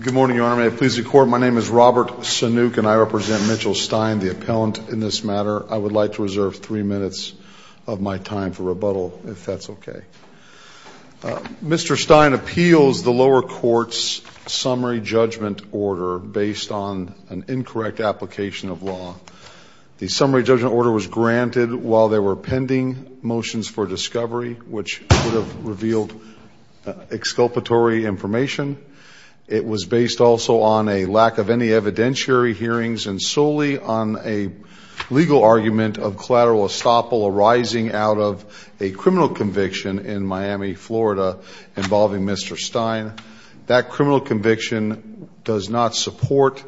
Good morning, Your Honor. May it please the Court, my name is Robert Sanook and I represent Mitchell Stein, the appellant in this matter. I would like to reserve three minutes of my time for rebuttal, if that's okay. Mr. Stein appeals the lower court's summary judgment order based on an incorrect application of law. The summary judgment order was granted while there were pending motions for discovery, which would have revealed exculpatory information. It was based also on a lack of any evidentiary hearings and solely on a legal argument of collateral estoppel arising out of a criminal conviction in Miami, Florida, involving Mr. Stein. That criminal conviction does not support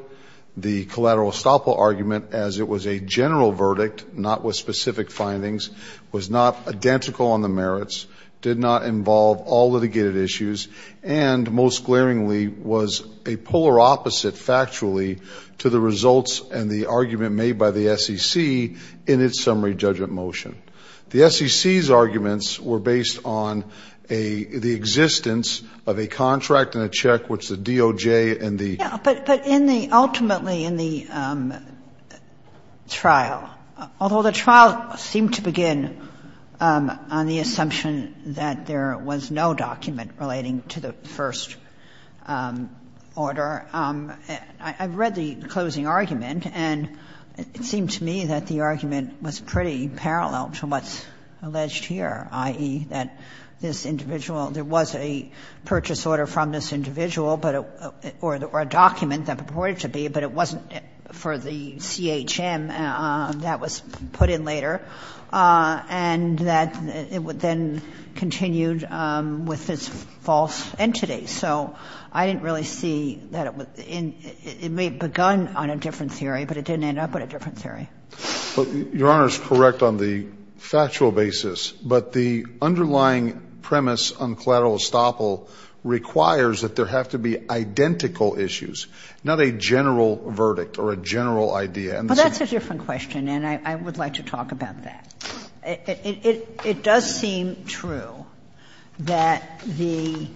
the collateral estoppel argument as it was a general verdict, not with specific findings, was not identical on the merits, did not involve all litigated issues, and most glaringly was a polar opposite factually to the results and the argument made by the SEC in its summary judgment motion. The SEC's arguments were based on a the existence of a contract and a check, which the DOJ and the ---- But in the ultimately in the trial, although the trial seemed to begin on the assumption that there was no document relating to the first order, I read the closing argument and it seemed to me that the argument was pretty parallel to what's alleged here, i.e., that this individual, there was a purchase order from this individual or a document that purported to be, but it wasn't for the CHM that was put in later, and that it would then continue with this false entity. So I didn't really see that it would begin on a different theory, but it didn't end up on a different theory. Your Honor is correct on the factual basis, but the underlying premise on collateral estoppel requires that there have to be identical issues, not a general verdict or a general idea. But that's a different question, and I would like to talk about that. It does seem true that the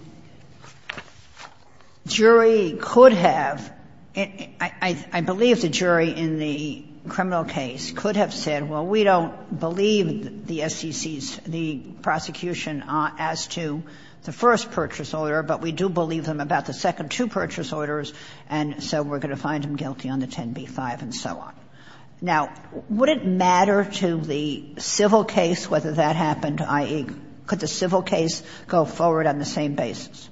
jury could have, I believe the jury in the criminal case could have said, well, we don't believe the SEC's, the prosecution as to the first purchase order, but we do believe them about the second two purchase orders, and so we're going to find them guilty on the 10b-5 and so on. Now, would it matter to the civil case whether that happened, i.e., could the civil case go forward on the same basis?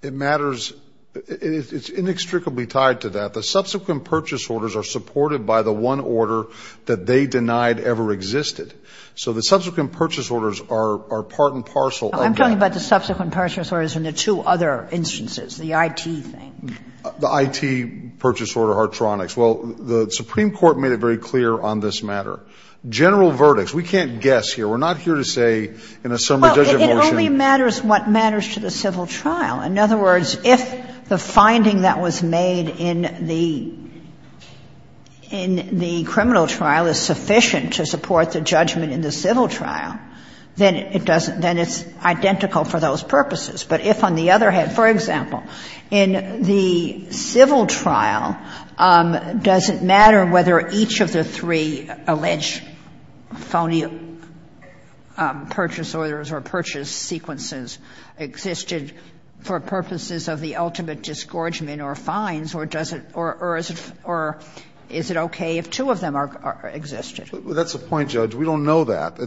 It matters. It's inextricably tied to that. The subsequent purchase orders are supported by the one order that they denied ever existed. So the subsequent purchase orders are part and parcel of that. Kagan. I'm talking about the subsequent purchase orders and the two other instances, the IT thing. The IT purchase order, Hartronics. Well, the Supreme Court made it very clear on this matter. General verdicts. We can't guess here. We're not here to say in a summary judgment motion. Well, it only matters what matters to the civil trial. In other words, if the finding that was made in the criminal trial is sufficient to support the judgment in the civil trial, then it's identical for those purposes. But if on the other hand, for example, in the civil trial, does it matter whether each of the three alleged phony purchase orders or purchase sequences existed for purposes of the ultimate disgorgement or fines, or does it or is it okay if two of them existed? That's the point, Judge. We don't know that.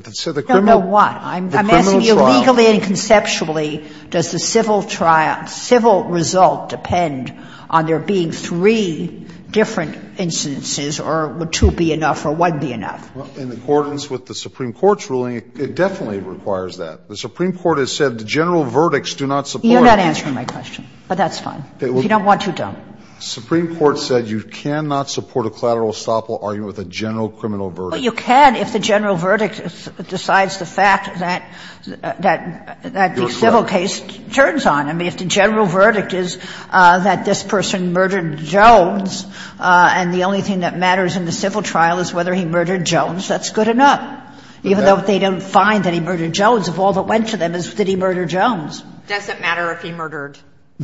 No, no, what? I'm asking you legally and conceptually, does the civil trial, civil result depend on there being three different incidences or would two be enough or one be enough? In accordance with the Supreme Court's ruling, it definitely requires that. The Supreme Court has said the general verdicts do not support it. You're not answering my question, but that's fine. If you don't want to, don't. The Supreme Court said you cannot support a collateral estoppel argument with a general criminal verdict. Well, you can if the general verdict decides the fact that the civil case turns on. I mean, if the general verdict is that this person murdered Jones and the only thing that matters in the civil trial is whether he murdered Jones, that's good enough, even though if they don't find that he murdered Jones, if all that went to them is did he murder Jones. Does it matter if he murdered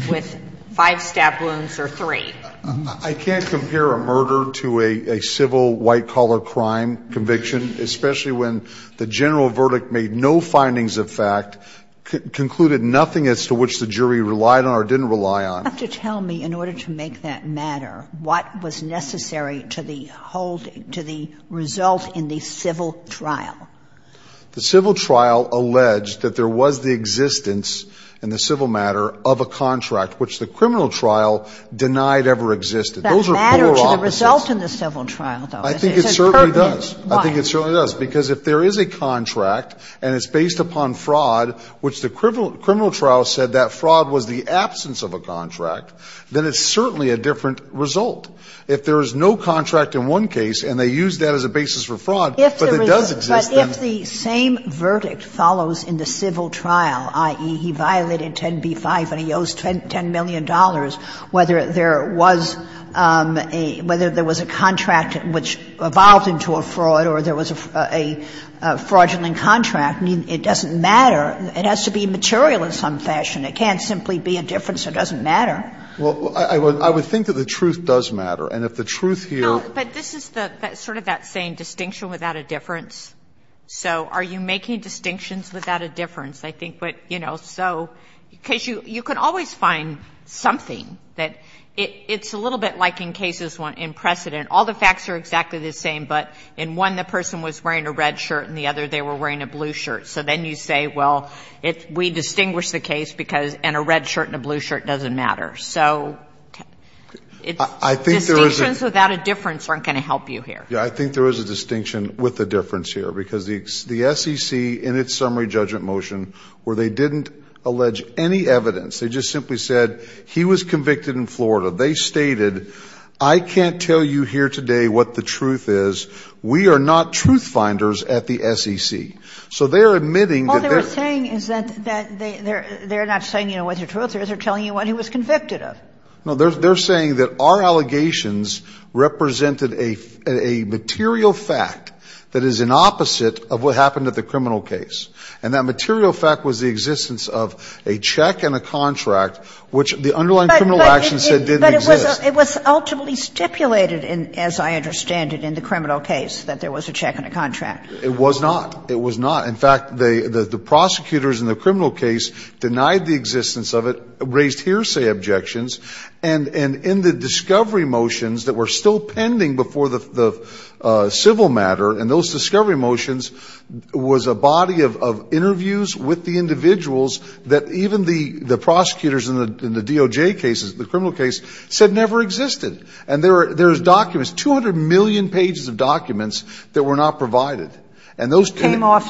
with five stab wounds or three? I can't compare a murder to a civil white-collar crime conviction, especially when the general verdict made no findings of fact, concluded nothing as to which the jury relied on or didn't rely on. You have to tell me, in order to make that matter, what was necessary to the hold up of the civil trial? The civil trial alleged that there was the existence in the civil matter of a contract which the criminal trial denied ever existed. Those are polar opposites. Does that matter to the result in the civil trial, though? I think it certainly does. I think it certainly does. Why? Because if there is a contract and it's based upon fraud, which the criminal trial said that fraud was the absence of a contract, then it's certainly a different result. If there is no contract in one case and they use that as a basis for fraud, but it does exist then. But if the same verdict follows in the civil trial, i.e., he violated 10b-5 and he owes $10 million, whether there was a contract which evolved into a fraud or there was a fraudulent contract, it doesn't matter. It has to be material in some fashion. It can't simply be a difference. It doesn't matter. Well, I would think that the truth does matter. And if the truth here. No, but this is the sort of that same distinction without a difference. So are you making distinctions without a difference? I think what, you know, so because you can always find something that it's a little bit like in cases in precedent. All the facts are exactly the same, but in one the person was wearing a red shirt and the other they were wearing a blue shirt. So then you say, well, we distinguish the case because a red shirt and a blue shirt doesn't matter. So distinctions without a difference aren't going to help you here. Yeah, I think there is a distinction with a difference here because the SEC in its summary judgment motion where they didn't allege any evidence. They just simply said he was convicted in Florida. They stated I can't tell you here today what the truth is. We are not truth finders at the SEC. So they're admitting that they're. All they were saying is that they're not saying, you know, what's the truth. They're telling you what he was convicted of. No, they're saying that our allegations represented a material fact that is an opposite of what happened at the criminal case. And that material fact was the existence of a check and a contract, which the underlying criminal action said didn't exist. But it was ultimately stipulated in, as I understand it, in the criminal case, that there was a check and a contract. It was not. It was not. In fact, the prosecutors in the criminal case denied the existence of it, raised hearsay objections. And in the discovery motions that were still pending before the civil matter, and those discovery motions was a body of interviews with the individuals that even the prosecutors in the DOJ cases, the criminal case, said never existed. And there's documents, 200 million pages of documents that were not provided. And those came off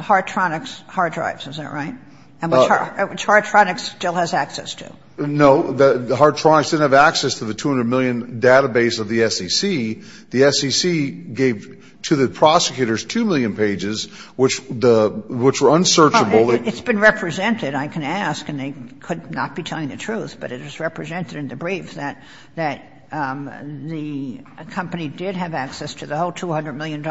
Hartronics hard drives, is that right? And which Hartronics still has access to. No. Hartronics didn't have access to the 200 million database of the SEC. The SEC gave to the prosecutors 2 million pages, which were unsearchable. It's been represented, I can ask, and they could not be telling the truth. But it is represented in the brief that the company did have access to the whole 200 million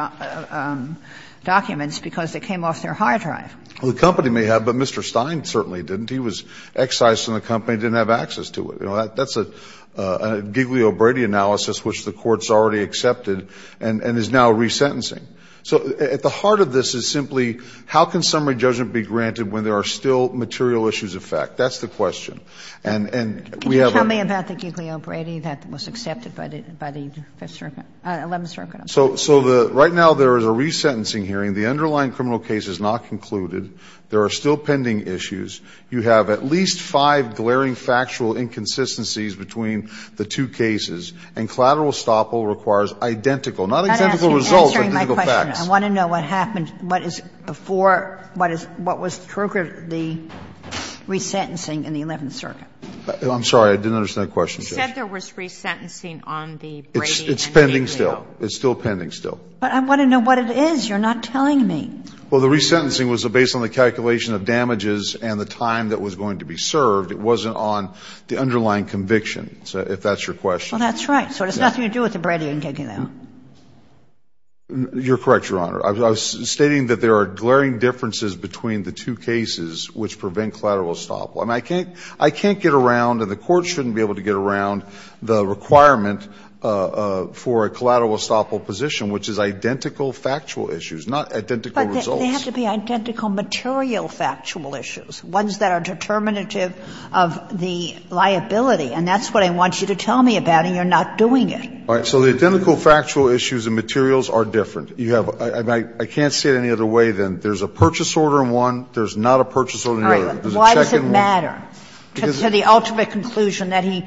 documents because it came off their hard drive. Well, the company may have, but Mr. Stein certainly didn't. He was excised from the company and didn't have access to it. That's a Giglio-Brady analysis which the Court's already accepted and is now resentencing. So at the heart of this is simply how can summary judgment be granted when there are still material issues of fact? That's the question. And we have a question. Can you tell me about the Giglio-Brady that was accepted by the Fifth Circuit or the Eleventh Circuit? So right now there is a resentencing hearing. The underlying criminal case is not concluded. There are still pending issues. You have at least five glaring factual inconsistencies between the two cases. And collateral estoppel requires identical, not identical results, but identical facts. I want to know what happened, what is before, what was triggered the resentencing in the Eleventh Circuit. I'm sorry. I didn't understand the question. You said there was resentencing on the Brady and the Giglio. It's pending still. It's still pending still. But I want to know what it is. You're not telling me. Well, the resentencing was based on the calculation of damages and the time that was going to be served. It wasn't on the underlying conviction, if that's your question. Well, that's right. So it has nothing to do with the Brady and Giglio. You're correct, Your Honor. I was stating that there are glaring differences between the two cases which prevent collateral estoppel. I mean, I can't get around, and the Court shouldn't be able to get around, the requirement for a collateral estoppel position which is identical factual issues, not identical results. But they have to be identical material factual issues, ones that are determinative of the liability. And that's what I want you to tell me about, and you're not doing it. All right. So the identical factual issues and materials are different. You have to see it any other way than there's a purchase order in one, there's not a purchase order in the other. Why does it matter to the ultimate conclusion that he,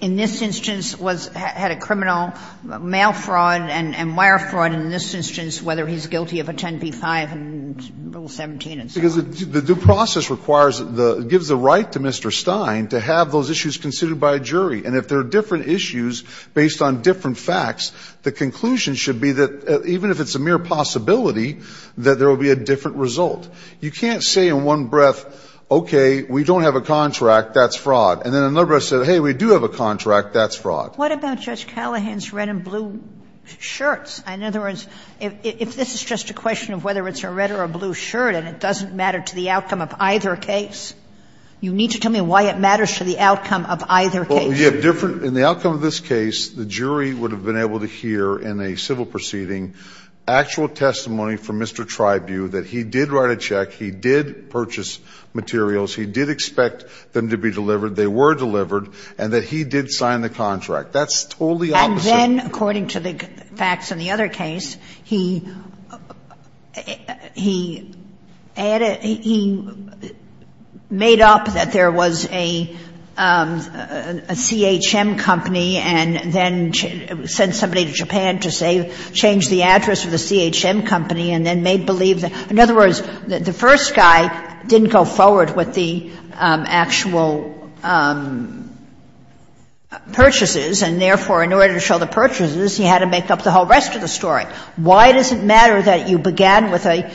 in this instance, had a criminal mail fraud and wire fraud in this instance, whether he's guilty of a 10p-5 and Rule 17 and so on? Because the due process requires, gives the right to Mr. Stein to have those issues considered by a jury. And if there are different issues based on different facts, the conclusion should be that even if it's a mere possibility, that there will be a different result. You can't say in one breath, okay, we don't have a contract, that's fraud. And then in another breath say, hey, we do have a contract, that's fraud. Sotomayor What about Judge Callahan's red and blue shirts? In other words, if this is just a question of whether it's a red or a blue shirt and it doesn't matter to the outcome of either case, you need to tell me why it matters to the outcome of either case. In the outcome of this case, the jury would have been able to hear in a civil proceeding actual testimony from Mr. Tribune that he did write a check, he did purchase materials, he did expect them to be delivered, they were delivered, and that he did sign the contract. That's totally opposite. And then, according to the facts in the other case, he added, he made up that there was a CHM company and then sent somebody to Japan to say, change the answer to the address of the CHM company, and then made believe that the first guy didn't go forward with the actual purchases, and therefore, in order to show the purchases, he had to make up the whole rest of the story. Why does it matter that you began with an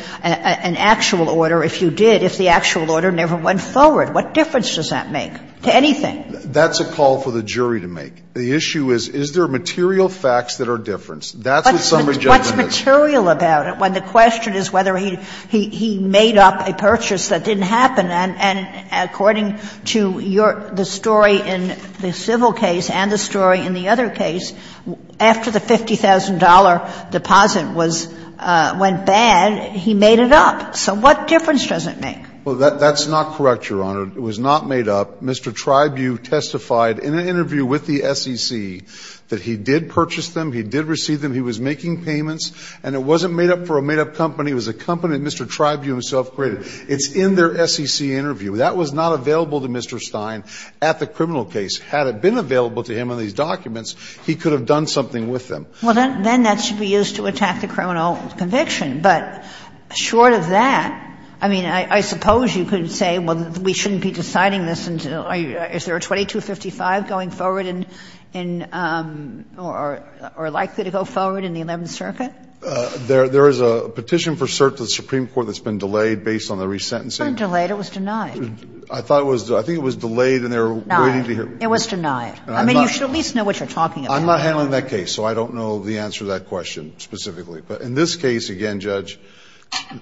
actual order if you did, if the actual order never went forward? What difference does that make to anything? That's a call for the jury to make. The issue is, is there material facts that are different? That's what summary judgment is. Kagan. But what's material about it when the question is whether he made up a purchase that didn't happen, and according to your story in the civil case and the story in the other case, after the $50,000 deposit was — went bad, he made it up. So what difference does it make? Well, that's not correct, Your Honor. It was not made up. Mr. Tribune testified in an interview with the SEC that he did purchase them, he did receive them, he was making payments, and it wasn't made up for a made-up company. It was a company that Mr. Tribune himself created. It's in their SEC interview. That was not available to Mr. Stein at the criminal case. Had it been available to him on these documents, he could have done something with them. Well, then that should be used to attack the criminal conviction. But short of that, I mean, I suppose you could say, well, we shouldn't be deciding this until — is there a 2255 going forward in — or likely to go forward in the Eleventh Circuit? There is a petition for cert to the Supreme Court that's been delayed based on the resentencing. It wasn't delayed. It was denied. I thought it was — I think it was delayed and they were waiting to hear. Denied. It was denied. I mean, you should at least know what you're talking about. I'm not handling that case, so I don't know the answer to that question specifically. But in this case, again, Judge,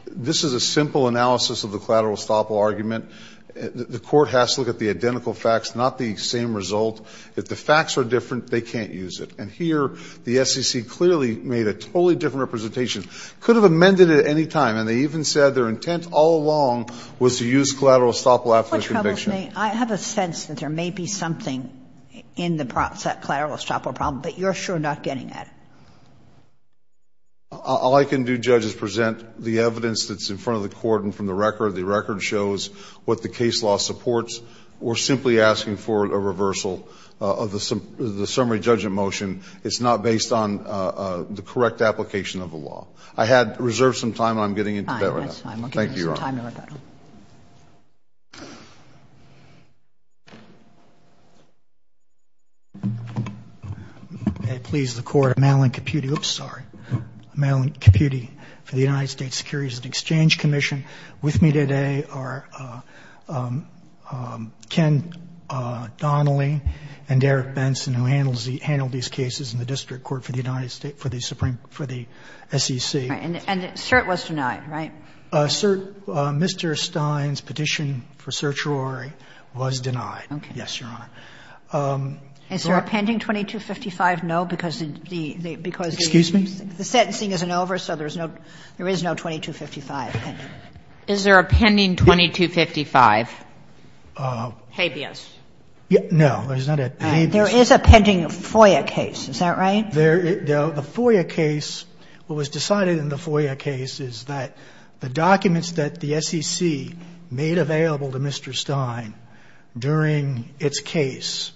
this is a simple analysis of the collateral estoppel argument. The Court has to look at the identical facts, not the same result. If the facts are different, they can't use it. And here, the SEC clearly made a totally different representation. Could have amended it at any time, and they even said their intent all along was to use collateral estoppel after the conviction. I have a sense that there may be something in the collateral estoppel problem, but you're sure not getting at it. All I can do, Judge, is present the evidence that's in front of the Court and from the record. The record shows what the case law supports. We're simply asking for a reversal of the summary judgment motion. It's not based on the correct application of the law. I had reserved some time, and I'm getting into that right now. Thank you, Your Honor. I will give you some time, Your Honor. May it please the Court, I'm Alan Caputi — oops, sorry. I'm Alan Caputi for the United States Securities and Exchange Commission. With me today are Ken Donnelly and Derrick Benson, who handle these cases in the district court for the United States, for the Supreme — for the SEC. And cert was denied, right? Cert — Mr. Stein's petition for certiorari was denied, yes, Your Honor. Is there a pending 2255? No, because the — Excuse me? The sentencing isn't over, so there is no 2255 pending. Is there a pending 2255? Habeas. No, there's not a habeas. There is a pending FOIA case, is that right? There — the FOIA case, what was decided in the FOIA case is that the documents that the SEC made available to Mr. Stein during its case,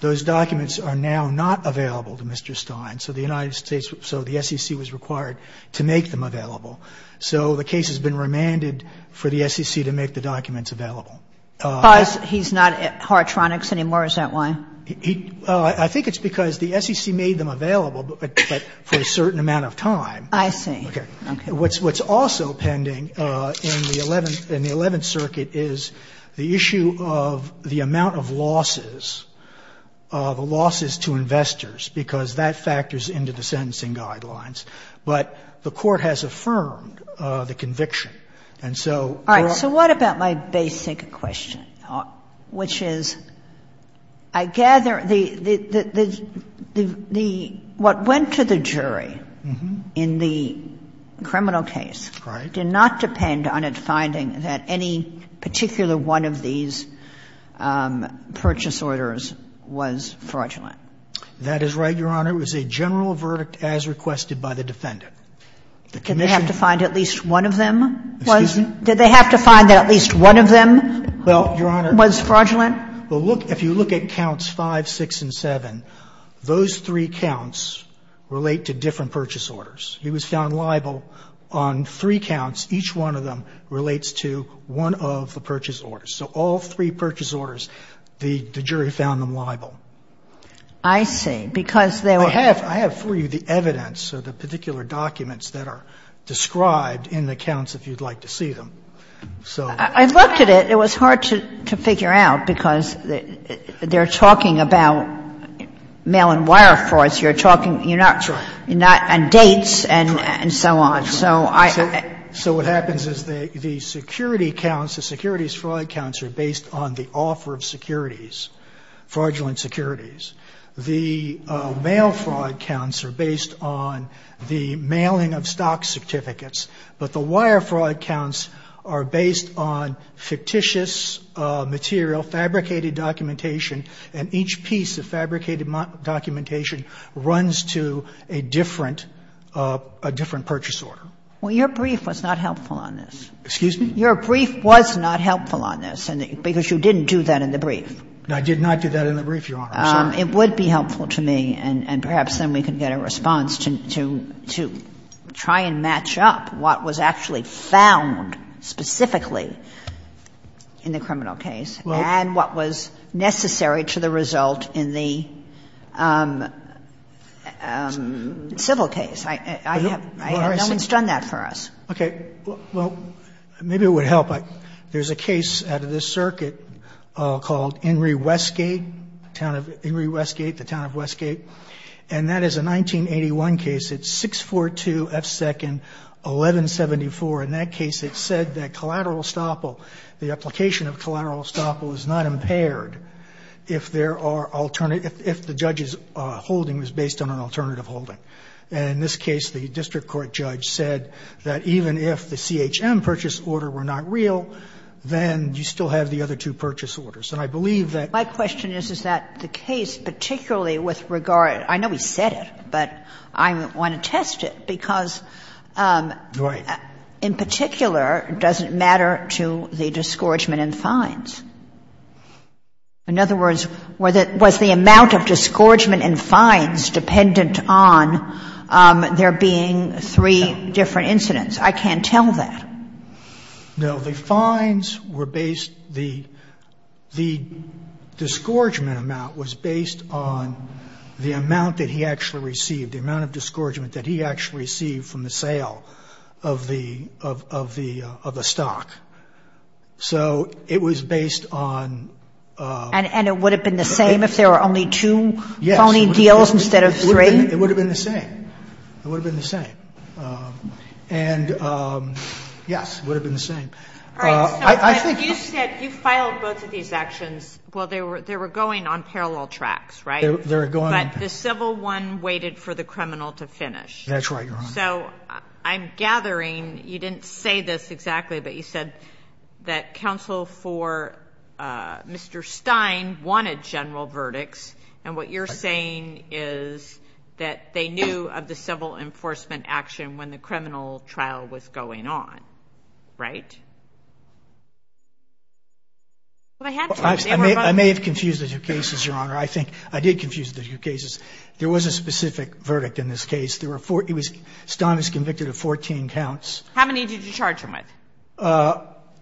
those documents are now not available to Mr. Stein. So the United States — so the SEC was required to make them available. So the case has been remanded for the SEC to make the documents available. Because he's not at Har-Tronics anymore, is that why? He — I think it's because the SEC made them available, but for a certain amount of time. I see. Okay. Okay. What's also pending in the Eleventh — in the Eleventh Circuit is the issue of the amount of losses, the losses to investors, because that factors into the sentencing guidelines. But the Court has affirmed the conviction, and so we're — All right. So what about my basic question, which is, I gather the — the — the — what went to the jury in the criminal case did not depend on it finding that any particular one of these purchase orders was fraudulent. That is right, Your Honor. It was a general verdict as requested by the defendant. The commission — Did they have to find at least one of them was — Excuse me? Did they have to find that at least one of them was fraudulent? Well, Your Honor, if you look at counts 5, 6, and 7, those three counts relate to different purchase orders. He was found liable on three counts. Each one of them relates to one of the purchase orders. So all three purchase orders, the jury found them liable. I see. I have for you the evidence of the particular documents that are described in the counts, if you'd like to see them. So — I looked at it. It was hard to figure out, because they're talking about mail and wire frauds. You're talking — That's right. You're not — and dates and — and so on. So I — So what happens is the security counts, the securities fraud counts are based on the offer of securities, fraudulent securities. The mail fraud counts are based on the mailing of stock certificates. But the wire fraud counts are based on fictitious material, fabricated documentation, and each piece of fabricated documentation runs to a different — a different purchase order. Well, your brief was not helpful on this. Excuse me? Your brief was not helpful on this, because you didn't do that in the brief. I did not do that in the brief, Your Honor. It would be helpful to me, and perhaps then we could get a response to — to try and match up what was actually found specifically in the criminal case and what was necessary to the result in the civil case. I have — no one's done that for us. Okay. Well, maybe it would help. But there's a case out of this circuit called Inree-Westgate, the town of — Inree-Westgate, the town of Westgate. And that is a 1981 case. It's 642 F. 2nd 1174. In that case, it said that collateral estoppel — the application of collateral estoppel is not impaired if there are — if the judge's holding was based on an alternative holding. In this case, the district court judge said that even if the CHM purchase order were not real, then you still have the other two purchase orders. And I believe that — My question is, is that the case particularly with regard — I know he said it, but I want to test it, because in particular, it doesn't matter to the disgorgement and fines. In other words, was the amount of disgorgement and fines dependent on there being three different incidents? I can't tell that. No, the fines were based — the — the disgorgement amount was based on the amount that he actually received, the amount of disgorgement that he actually received from the sale of the — of the — of the stock. So it was based on — And it would have been the same if there were only two phony deals instead of three? Yes. It would have been the same. It would have been the same. And, yes, it would have been the same. All right. So, but you said — you filed both of these actions — well, they were — they were going on parallel tracks, right? They were going on parallel. But the civil one waited for the criminal to finish. That's right, Your Honor. So I'm gathering — you didn't say this exactly, but you said that counsel for Mr. Stein wanted general verdicts, and what you're saying is that they knew of the civil enforcement action when the criminal trial was going on, right? Well, they had to. I may have confused the two cases, Your Honor. I think I did confuse the two cases. There was a specific verdict in this case. There were four — it was — Stein was convicted of 14 counts. How many did you charge him with?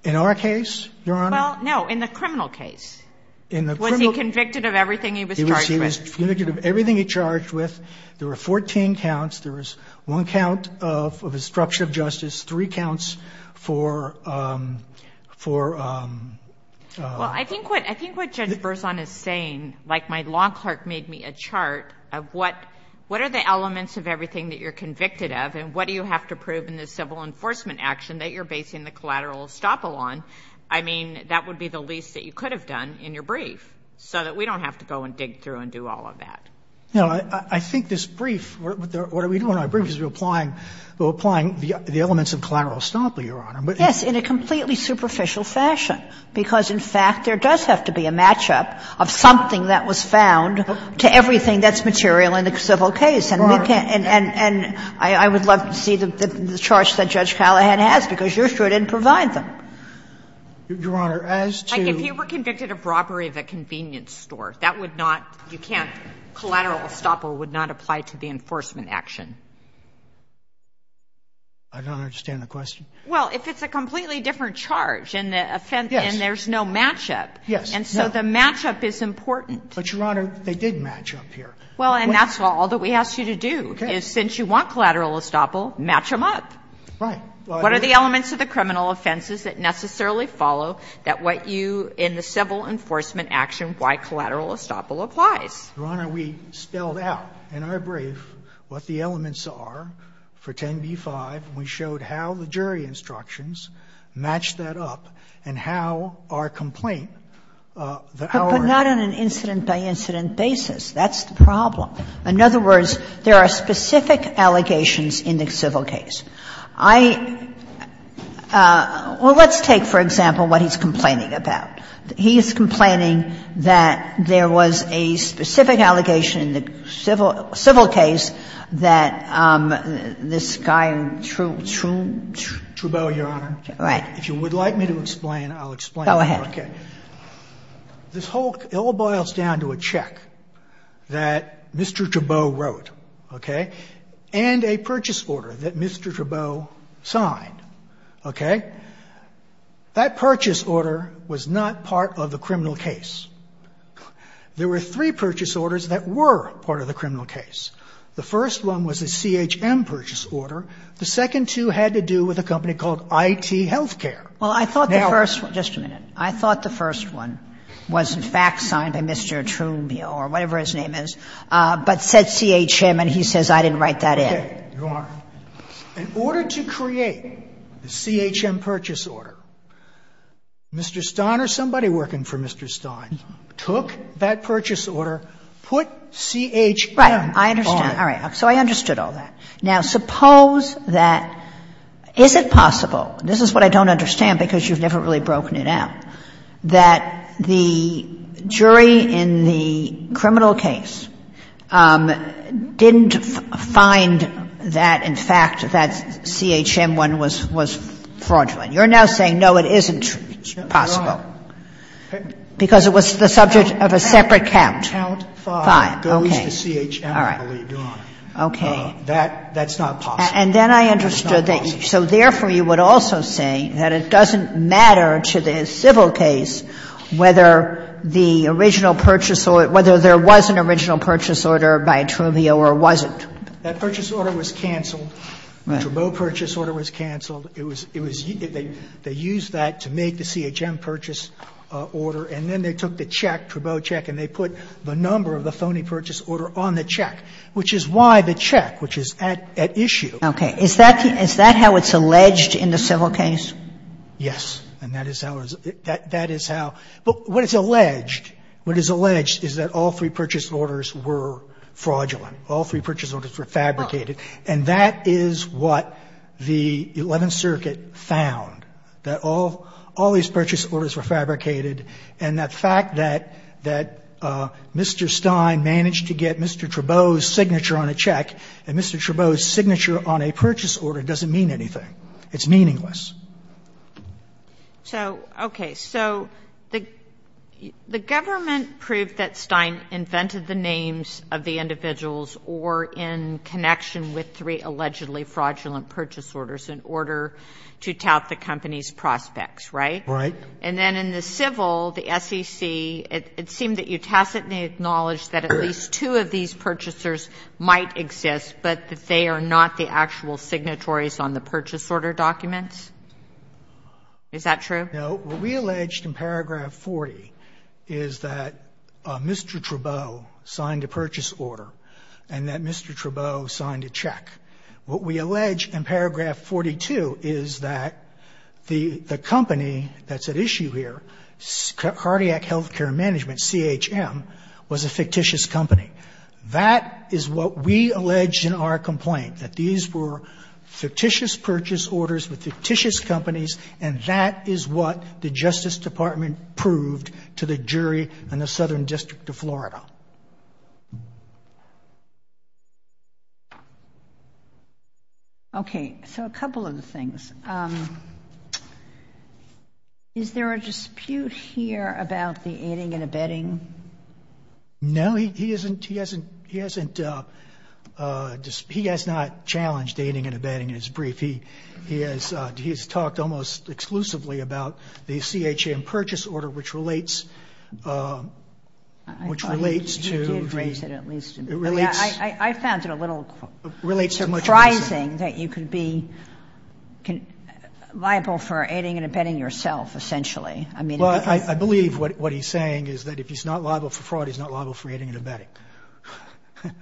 In our case, Your Honor? Well, no, in the criminal case. In the criminal — Was he convicted of everything he was charged with? He was convicted of everything he charged with. There were 14 counts. There was one count of obstruction of justice, three counts for — Well, I think what — I think what Judge Berzon is saying, like my law clerk made me a chart of what are the elements of everything that you're convicted of and what do you have to prove in the civil enforcement action that you're basing the collateral estoppel on, I mean, that would be the least that you could have done in your brief so that we don't have to go and dig through and do all of that. You know, I think this brief, what we do in our brief is we're applying — we're applying the elements of collateral estoppel, Your Honor, but it's — Yes, in a completely superficial fashion, because, in fact, there does have to be a match-up of something that was found to everything that's material in the civil case. And we can't — and I would love to see the charge that Judge Callahan has, because you're sure it didn't provide them. Your Honor, as to — Like, if you were convicted of robbery of a convenience store, that would not — you can't — collateral estoppel would not apply to the enforcement action. I don't understand the question. Well, if it's a completely different charge and the offense — Yes. And there's no match-up. Yes. And so the match-up is important. But, Your Honor, they did match-up here. Well, and that's all that we ask you to do, is since you want collateral estoppel, match them up. Right. What are the elements of the criminal offenses that necessarily follow that what you in the civil enforcement action why collateral estoppel applies? Your Honor, we spelled out in our brief what the elements are for 10b-5, and we showed how the jury instructions match that up, and how our complaint, our — But not on an incident-by-incident basis. That's the problem. In other words, there are specific allegations in the civil case. I — well, let's take, for example, what he's complaining about. He is complaining that there was a specific allegation in the civil case that this guy, Trubeau, Your Honor, if you would like me to explain, I'll explain. Go ahead. Okay. This whole — it all boils down to a check that Mr. Trubeau wrote, okay, and a purchase order that Mr. Trubeau signed, okay? That purchase order was not part of the criminal case. There were three purchase orders that were part of the criminal case. The first one was a CHM purchase order. The second two had to do with a company called IT Healthcare. Now — Well, I thought the first — just a minute. I thought the first one was, in fact, signed by Mr. Trubeau or whatever his name is, but said CHM, and he says I didn't write that in. Okay. Your Honor, in order to create the CHM purchase order, Mr. Stein or somebody working for Mr. Stein took that purchase order, put CHM on it. Right. I understand. All right. So I understood all that. Now, suppose that — is it possible — this is what I don't understand because you've never really broken it out — that the jury in the criminal case didn't find that, in fact, that CHM one was fraudulent. You're now saying, no, it isn't possible because it was the subject of a separate count. Count 5 goes to CHM, I believe, Your Honor. Okay. That's not possible. And then I understood that — so therefore, you would also say that it doesn't That purchase order was canceled, the Trubeau purchase order was canceled. It was — it was — they used that to make the CHM purchase order, and then they took the check, Trubeau check, and they put the number of the phony purchase order on the check, which is why the check, which is at issue. Okay. Is that — is that how it's alleged in the civil case? Yes. And that is how it is — that is how — but what is alleged, what is alleged is that all three purchase orders were fraudulent. All three purchase orders were fabricated. And that is what the Eleventh Circuit found, that all — all these purchase orders were fabricated, and that fact that — that Mr. Stein managed to get Mr. Trubeau's signature on a check, and Mr. Trubeau's signature on a purchase order doesn't mean anything, it's meaningless. So, okay. So the — the government proved that Stein invented the names of the individuals or in connection with three allegedly fraudulent purchase orders in order to tout the company's prospects, right? Right. And then in the civil, the SEC, it — it seemed that you tacitly acknowledged that at least two of these purchasers might exist, but that they are not the actual signatories on the purchase order documents? Is that true? No. What we alleged in paragraph 40 is that Mr. Trubeau signed a purchase order and that Mr. Trubeau signed a check. What we allege in paragraph 42 is that the — the company that's at issue here, Cardiac Health Care Management, CHM, was a fictitious company. It's purchased orders with fictitious companies and that is what the Justice Department proved to the jury in the Southern District of Florida. Okay. So a couple of the things. Is there a dispute here about the aiding and abetting? No, he isn't — he hasn't — he hasn't — he has not challenged aiding and abetting in his brief. He — he has — he has talked almost exclusively about the CHM purchase order, which relates — which relates to the — I thought he did raise it at least. It relates — I found it a little surprising that you could be liable for aiding and abetting yourself, essentially. I mean — Well, I believe what he's saying is that if he's not liable for fraud, he's not liable for aiding and abetting. Right.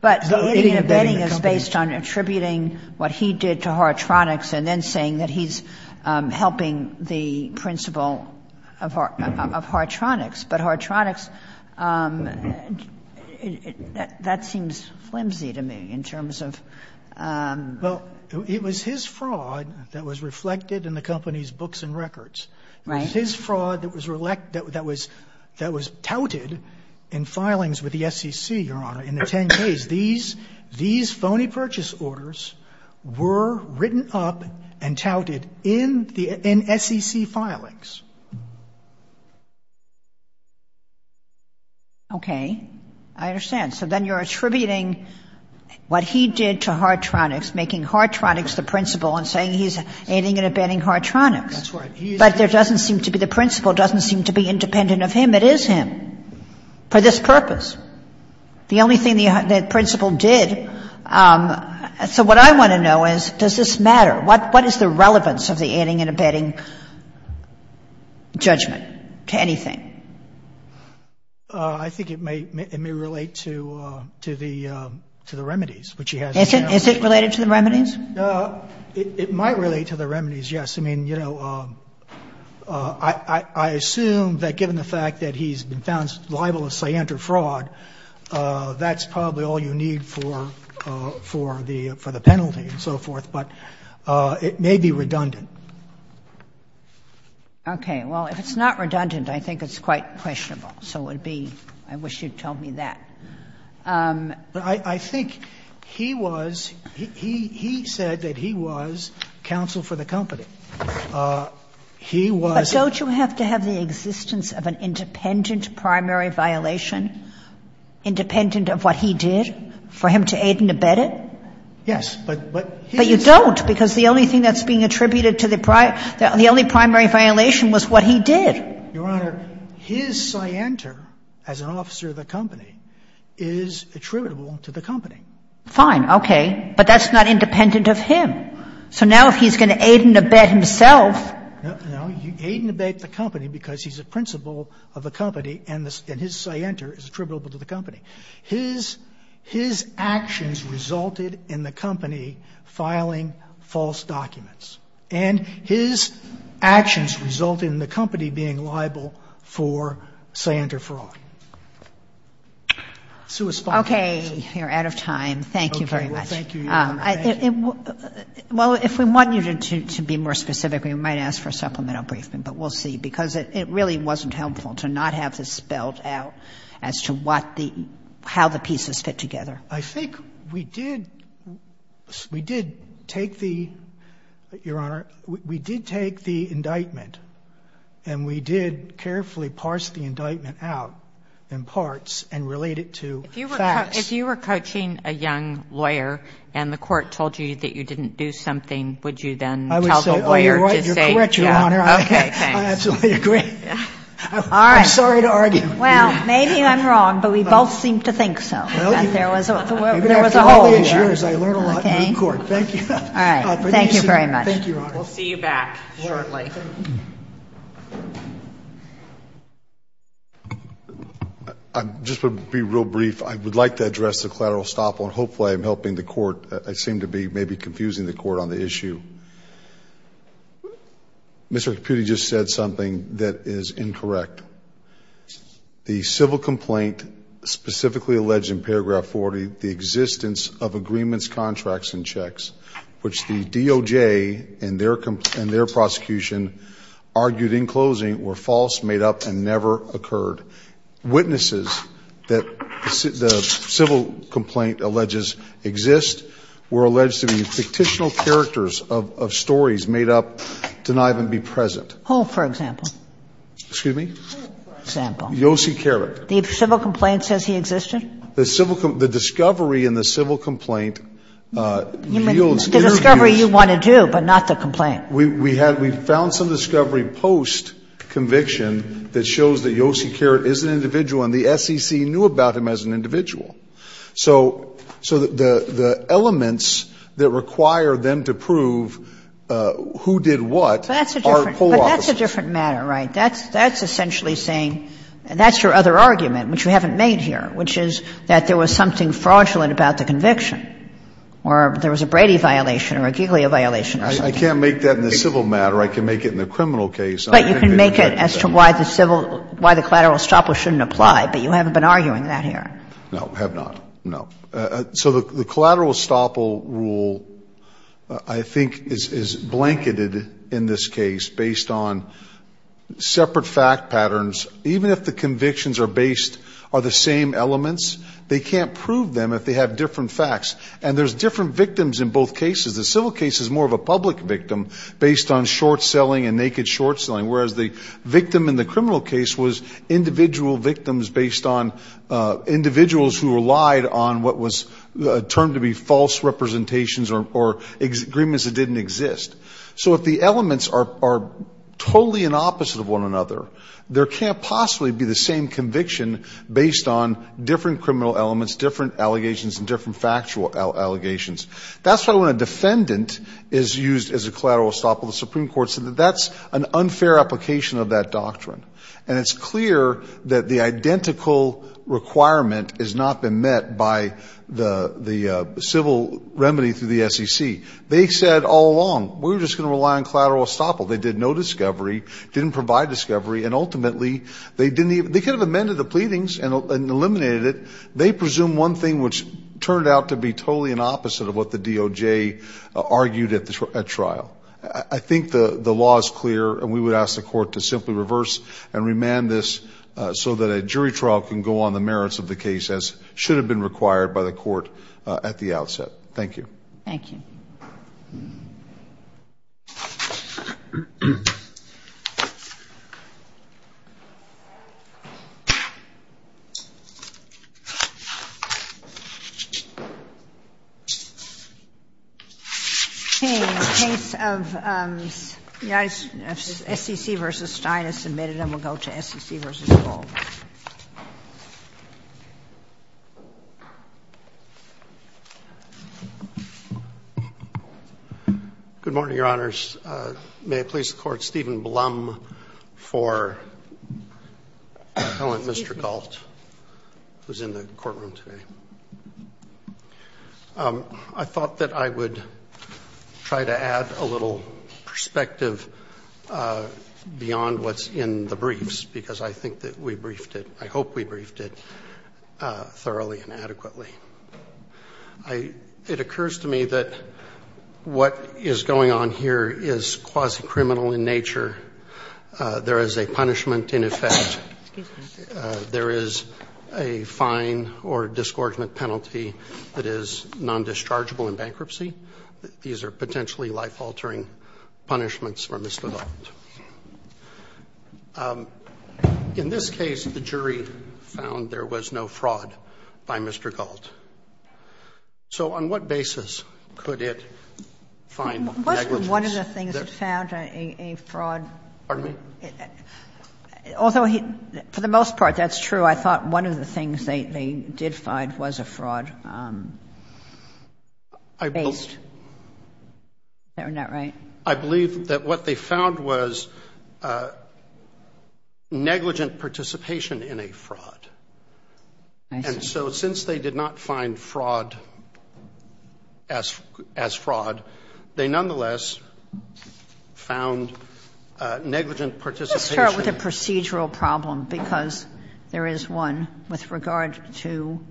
But aiding and abetting is based on attributing what he did to Horatronics and then saying that he's helping the principal of Horatronics. But Horatronics, that seems flimsy to me in terms of — Well, it was his fraud that was reflected in the company's books and records. Right. It was his fraud that was — that was touted in filings with the SEC, Your Honor, in the 10 days. These phony purchase orders were written up and touted in SEC filings. Okay. I understand. So then you're attributing what he did to Horatronics, making Horatronics the principal, and saying he's aiding and abetting Horatronics. That's right. But there doesn't seem to be — the principal doesn't seem to be independent of him. It is him for this purpose. The only thing the principal did — so what I want to know is, does this matter? What is the relevance of the aiding and abetting judgment to anything? I think it may — it may relate to the — to the remedies, which he has. Is it related to the remedies? It might relate to the remedies, yes. I mean, you know, I assume that given the fact that he's been found liable for scientific fraud, that's probably all you need for the penalty and so forth. But it may be redundant. Okay. Well, if it's not redundant, I think it's quite questionable. So it would be — I wish you'd told me that. But I think he was — he said that he was counsel for the company. He was — But don't you have to have the existence of an independent primary violation, independent of what he did, for him to aid and abet it? Yes. But he — But you don't, because the only thing that's being attributed to the — the only primary violation was what he did. Your Honor, his scienter, as an officer of the company, is attributable to the company. Fine. Okay. But that's not independent of him. So now if he's going to aid and abet himself — No. No. He aid and abet the company because he's a principal of the company, and his scienter is attributable to the company. His — his actions resulted in the company filing false documents. And his actions resulted in the company being liable for scienter fraud. So as far as — Okay. You're out of time. Thank you very much. Okay. Well, thank you, Your Honor. Thank you. Well, if we want you to be more specific, we might ask for a supplemental briefing, but we'll see, because it really wasn't helpful to not have this spelled out as to what the — how the pieces fit together. I think we did — we did take the — Your Honor, we did take the indictment and we did carefully parse the indictment out in parts and relate it to facts. If you were coaching a young lawyer and the court told you that you didn't do something, would you then tell the lawyer to say — Oh, you're right. You're correct, Your Honor. Okay. Thanks. I absolutely agree. All right. I'm sorry to argue. Well, maybe I'm wrong, but we both seem to think so. Well, you — There was a hole there. Maybe after all these years, I learned a lot in the court. Okay. Thank you. All right. Thank you very much. Thank you, Your Honor. We'll see you back shortly. Just to be real brief, I would like to address the collateral estoppel. And hopefully, I'm helping the court. I seem to be maybe confusing the court on the issue. Mr. Caputti just said something that is incorrect. The civil complaint specifically alleged in paragraph 40, the existence of agreements, contracts, and checks, which the DOJ and their prosecution argued in closing were false, made up, and never occurred. Witnesses that the civil complaint alleges exist were alleged to be fictitional characters of stories made up to not even be present. Hull, for example. Excuse me? Hull, for example. Yossi Karat. The civil complaint says he existed? The civil — the discovery in the civil complaint yields interviews — The discovery you want to do, but not the complaint. We found some discovery post-conviction that shows that Yossi Karat is an individual, and the SEC knew about him as an individual. So the elements that require them to prove who did what are false. But that's a different matter, right? That's essentially saying — that's your other argument, which you haven't made here, which is that there was something fraudulent about the conviction, or there was a Brady violation or a Giglio violation or something. I can't make that in the civil matter. I can make it in the criminal case. But you can make it as to why the collateral estoppel shouldn't apply, but you haven't been arguing that here. No, have not. No. So the collateral estoppel rule, I think, is blanketed in this case based on separate fact patterns. Even if the convictions are based — are the same elements, they can't prove them if they have different facts. And there's different victims in both cases. The civil case is more of a public victim based on short-selling and naked short-selling, whereas the victim in the criminal case was individual victims based on — a term to be false representations or agreements that didn't exist. So if the elements are totally in opposite of one another, there can't possibly be the same conviction based on different criminal elements, different allegations, and different factual allegations. That's why when a defendant is used as a collateral estoppel, the Supreme Court said that that's an unfair application of that doctrine. And it's clear that the identical requirement has not been met by the civil remedy through the SEC. They said all along, we're just going to rely on collateral estoppel. They did no discovery, didn't provide discovery, and ultimately they didn't even — they could have amended the pleadings and eliminated it. They presume one thing, which turned out to be totally in opposite of what the DOJ argued at trial. I think the law is clear, and we would ask the court to simply reverse and remand this so that a jury trial can go on the merits of the case, as should have been required by the court at the outset. Thank you. Thank you. Case of SEC v. Stein is submitted, and we'll go to SEC v. Gold. Good morning, Your Honors. May it please the Court, Stephen Blum for Appellant Mr. Galt, who's in the courtroom today. I thought that I would try to add a little perspective beyond what's in the briefs, because I think that we briefed it — I hope we briefed it thoroughly and adequately. It occurs to me that what is going on here is quasi-criminal in nature. There is a punishment in effect. There is a fine or disgorgement penalty that is non-dischargeable in bankruptcy. These are potentially life-altering punishments for misdevelopment. In this case, the jury found there was no fraud by Mr. Galt. So on what basis could it find negligence? Wasn't one of the things that found a fraud? Pardon me? Although, for the most part, that's true. I thought one of the things they did find was a fraud based. Is that not right? I believe that what they found was negligent participation in a fraud. I see. And so since they did not find fraud as fraud, they nonetheless found negligent participation. Let's start with the procedural problem, because there is one with regard to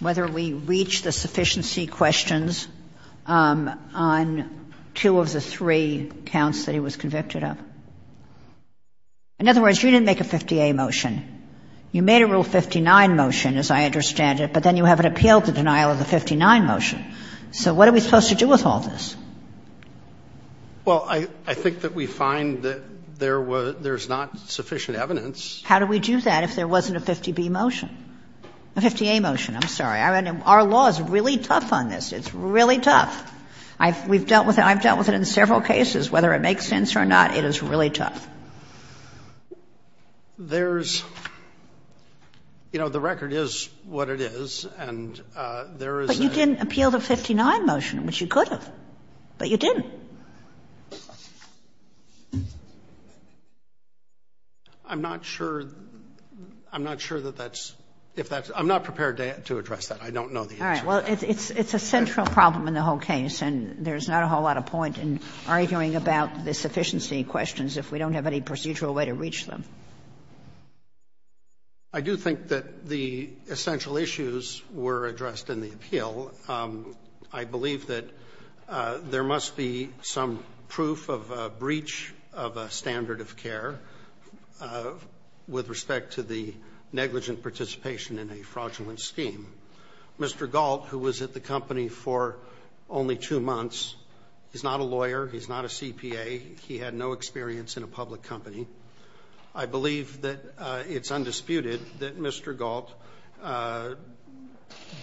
whether we reach the sufficiency questions on two of the three counts that he was convicted of. In other words, you didn't make a 50A motion. You made a Rule 59 motion, as I understand it, but then you haven't appealed the denial of the 59 motion. So what are we supposed to do with all this? Well, I think that we find that there is not sufficient evidence. How do we do that if there wasn't a 50B motion? A 50A motion. I'm sorry. Our law is really tough on this. It's really tough. I've dealt with it in several cases. Whether it makes sense or not, it is really tough. There's, you know, the record is what it is, and there is a But you didn't appeal the 59 motion, which you could have. But you didn't. I'm not sure. I'm not sure that that's, if that's, I'm not prepared to address that. I don't know the answer. All right. Well, it's a central problem in the whole case, and there's not a whole lot of point in arguing about the sufficiency questions if we don't have any procedural way to reach them. I do think that the essential issues were addressed in the appeal. I believe that there must be some proof of a breach of a standard of care with respect to the negligent participation in a fraudulent scheme. Mr. Galt, who was at the company for only two months, he's not a lawyer. He's not a CPA. He had no experience in a public company. I believe that it's undisputed that Mr. Galt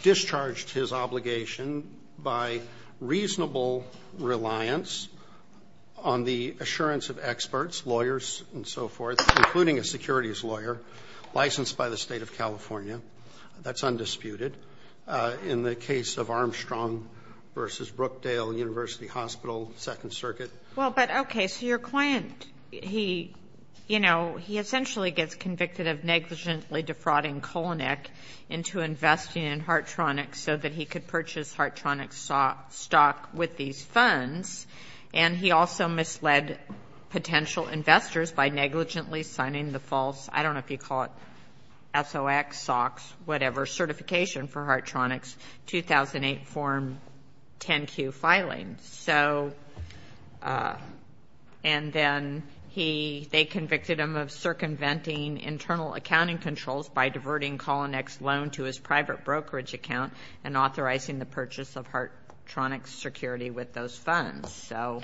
discharged his obligation by reasonable reliance on the assurance of experts, lawyers and so forth, including a securities lawyer licensed by the State of California. That's undisputed. In the case of Armstrong v. Brookdale University Hospital, Second Circuit. Well, but okay. It's your client. He, you know, he essentially gets convicted of negligently defrauding Kolnick into investing in Hartronics so that he could purchase Hartronics stock with these funds. And he also misled potential investors by negligently signing the false, I don't know if you call it SOX, SOX, whatever, certification for Hartronics 2008 Form 10-Q filing. So, and then he, they convicted him of circumventing internal accounting controls by diverting Kolnick's loan to his private brokerage account and authorizing the purchase of Hartronics security with those funds. So.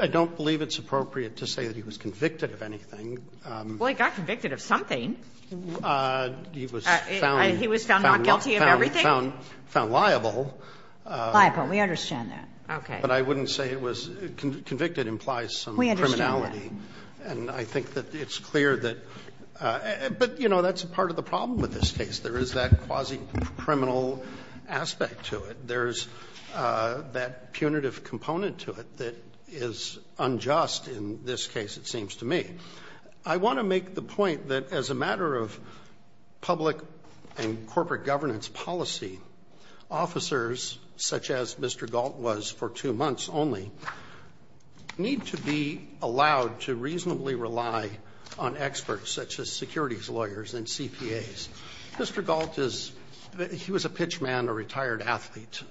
I don't believe it's appropriate to say that he was convicted of anything. Well, he got convicted of something. He was found. He was found not guilty of everything? Found liable. Liable, we understand that. Okay. But I wouldn't say it was, convicted implies some criminality. We understand that. And I think that it's clear that, but you know, that's part of the problem with this case. There is that quasi-criminal aspect to it. There's that punitive component to it that is unjust in this case, it seems to me. I want to make the point that as a matter of public and corporate governance policy, officers, such as Mr. Galt was for two months only, need to be allowed to reasonably rely on experts such as securities lawyers and CPAs. Mr. Galt is, he was a pitchman, a retired athlete.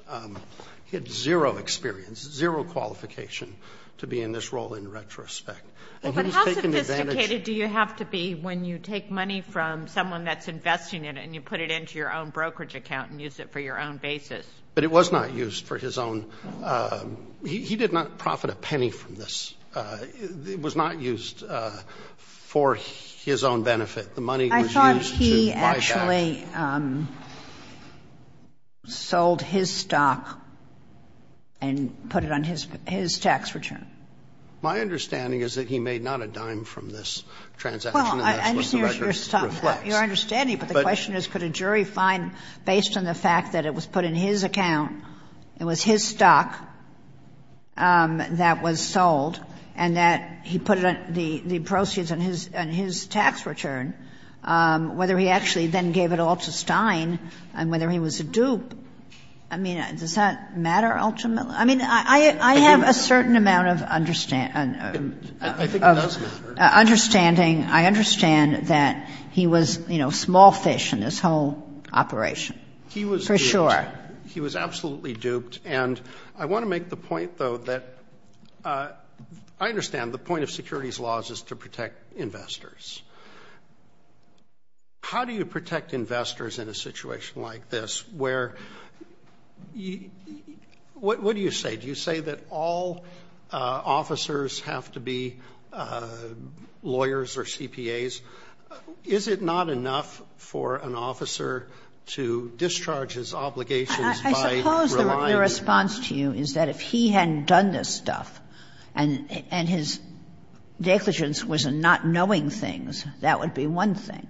He had zero experience, zero qualification to be in this role in retrospect. Well, but how sophisticated do you have to be when you take money from someone that's investing in it and you put it into your own brokerage account and use it for your own basis? But it was not used for his own, he did not profit a penny from this. It was not used for his own benefit. The money was used to buy back. I thought he actually sold his stock and put it on his tax return. My understanding is that he made not a dime from this transaction. And that's what the record reflects. Your understanding, but the question is, could a jury find, based on the fact that it was put in his account, it was his stock that was sold, and that he put the proceeds on his tax return, whether he actually then gave it all to Stein and whether he was a dupe. I mean, does that matter ultimately? I mean, I have a certain amount of understanding. I think it does matter. Understanding, I understand that he was, you know, small fish in this whole operation. For sure. He was absolutely duped. And I want to make the point, though, that I understand the point of securities laws is to protect investors. How do you protect investors in a situation like this where, what do you say? Do you say that all officers have to be lawyers or CPAs? Is it not enough for an officer to discharge his obligations by relying? I suppose the response to you is that if he hadn't done this stuff and his negligence was in not knowing things, that would be one thing.